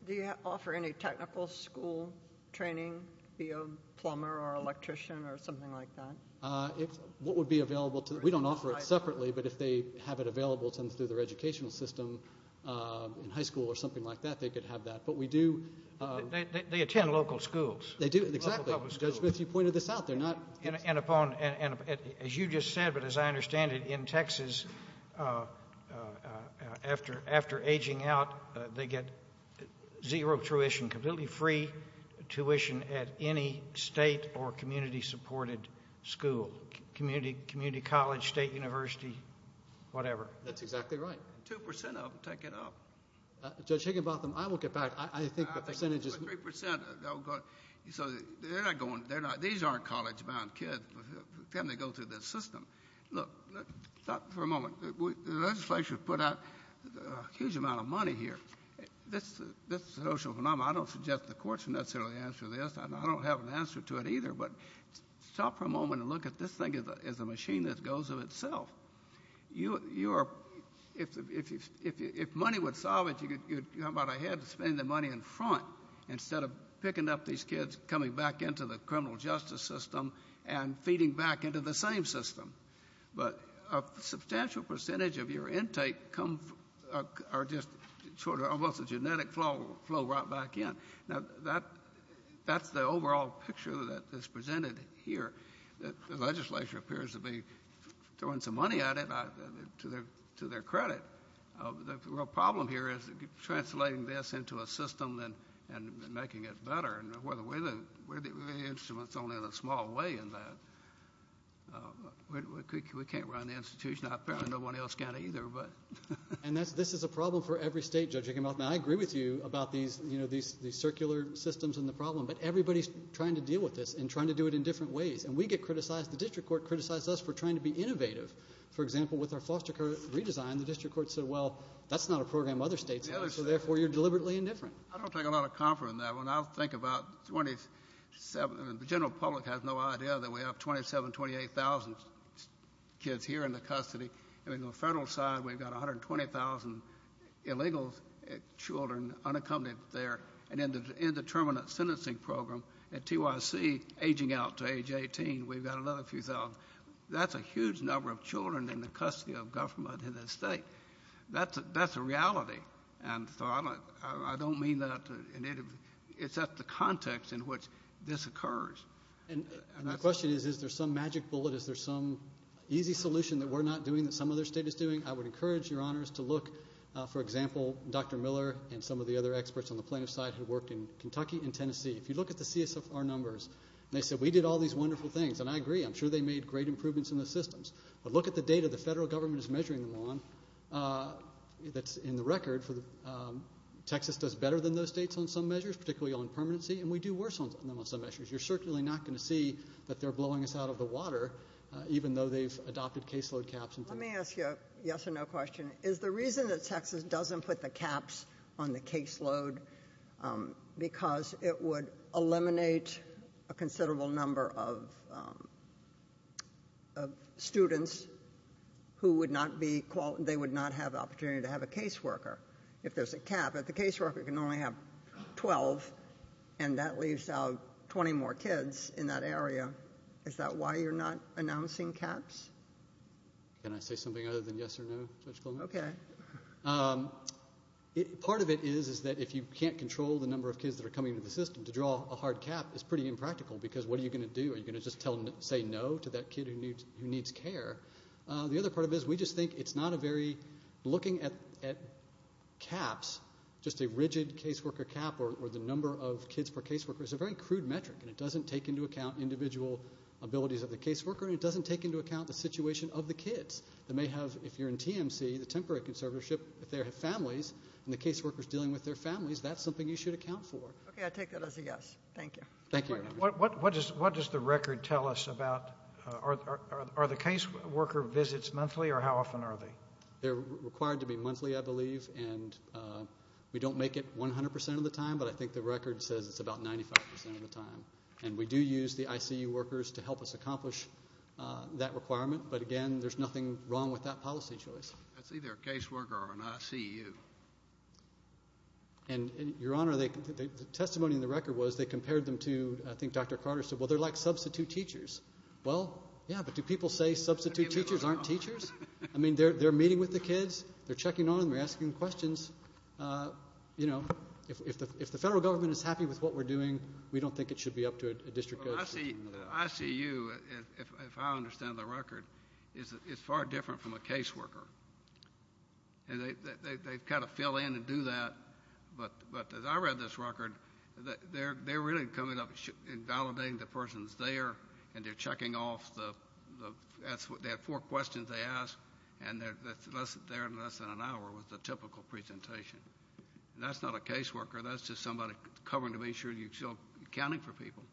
Do you offer any technical school training via plumber or electrician or something like that? What would be available to them? We don't offer it separately, but if they have it available to them through their educational system in high school or something like that, they could have that. They attend local schools. Exactly. Judge Smith, you pointed this out. As you just said, but as I understand it, in Texas, after aging out, they get zero tuition, completely free tuition at any state or community-supported school, community college, state university, whatever. That's exactly right. Two percent of them take it up. Judge Higginbotham, I will get back. I think the percentage is... Three percent. These aren't college-bound kids for them to go through this system. Look, stop for a moment. The legislature has put out a huge amount of money here. This is a social phenomenon. I don't suggest the courts necessarily answer this, and I don't have an answer to it either, but stop for a moment and look at this thing as a machine that goes of itself. If money would solve it, you'd go about ahead and spend the money in front instead of picking up these kids, coming back into the criminal justice system, and feeding back into the same system. But a substantial percentage of your intake are just sort of almost a genetic flow right back in. That's the overall picture that is presented here. The legislature appears to be throwing some money at it to their credit. The real problem here is translating this into a system and making it better. We're the instruments only in a small way in that. We can't run the institution. Apparently no one else can either. This is a problem for every state, Judge Higginbotham. I agree with you about these circular systems and the problem, but everybody's trying to deal with this and trying to do it in different ways. And we get criticized. The district court criticized us for trying to be innovative. For example, with our foster care redesign, the district court said, well, that's not a program other states have, so therefore you're deliberately indifferent. I don't take a lot of comfort in that. When I think about the general public has no idea that we have 27,000, 28,000 kids here in the custody. On the federal side, we've got 120,000 illegal children unaccompanied there and an indeterminate sentencing program. At TYC, aging out to age 18, we've got another few thousand. That's a huge number of children in the custody of government and the state. That's a reality. And so I don't mean that in any way. It's just the context in which this occurs. And my question is, is there some magic bullet? Is there some easy solution that we're not doing that some other state is doing? I would encourage your honors to look, for example, Dr. Miller and some of the other experts on the plaintiff's side who worked in Kentucky and Tennessee. If you look at the CSFR numbers, they said we did all these wonderful things, and I agree. I'm sure they made great improvements in the systems. But look at the data the federal government is measuring them on that's in the record. Texas does better than those states on some measures, particularly on permanency, and we do worse on them on some measures. You're certainly not going to see that they're blowing us out of the water, even though they've adopted caseload caps. Let me ask you a yes or no question. Is the reason that Texas doesn't put the caps on the caseload because it would eliminate a considerable number of students who would not have the opportunity to have a caseworker if there's a cap? If the caseworker can only have 12 and that leaves out 20 more kids in that area, is that why you're not announcing caps? Can I say something other than yes or no, Judge Coleman? Okay. Part of it is that if you can't control the number of kids that are coming into the system, to draw a hard cap is pretty impractical because what are you going to do? Are you going to just say no to that kid who needs care? The other part of it is we just think it's not a very looking at caps, just a rigid caseworker cap or the number of kids per caseworker. It's a very crude metric, and it doesn't take into account individual abilities of the caseworker, and it doesn't take into account the situation of the kids that may have, if you're in TMC, the temporary conservatorship, if they have families and the caseworker is dealing with their families, that's something you should account for. Okay, I take that as a yes. Thank you. Thank you. What does the record tell us about are the caseworker visits monthly, or how often are they? They're required to be monthly, I believe, and we don't make it 100% of the time, but I think the record says it's about 95% of the time. And we do use the ICU workers to help us accomplish that requirement, but, again, there's nothing wrong with that policy choice. That's either a caseworker or an ICU. And, Your Honor, the testimony in the record was they compared them to, I think Dr. Carter said, well, they're like substitute teachers. Well, yeah, but do people say substitute teachers aren't teachers? I mean, they're meeting with the kids. They're checking on them. They're asking questions. You know, if the federal government is happy with what we're doing, we don't think it should be up to a district coach. The ICU, if I understand the record, is far different from a caseworker. And they kind of fill in and do that, but as I read this record, they're really coming up and validating the person's there and they're checking off the four questions they asked, and they're there in less than an hour with the typical presentation. That's not a caseworker. That's just somebody covering to make sure you're still accounting for people.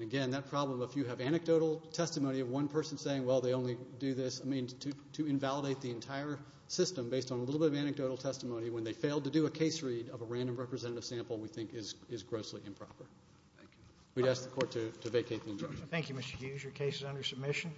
Again, that problem, if you have anecdotal testimony of one person saying, well, they only do this, I mean, to invalidate the entire system based on a little bit of anecdotal testimony when they failed to do a case read of a random representative sample we think is grossly improper. Thank you. We'd ask the Court to vacate the adjournment. Thank you, Mr. Hughes. Your case is under submission.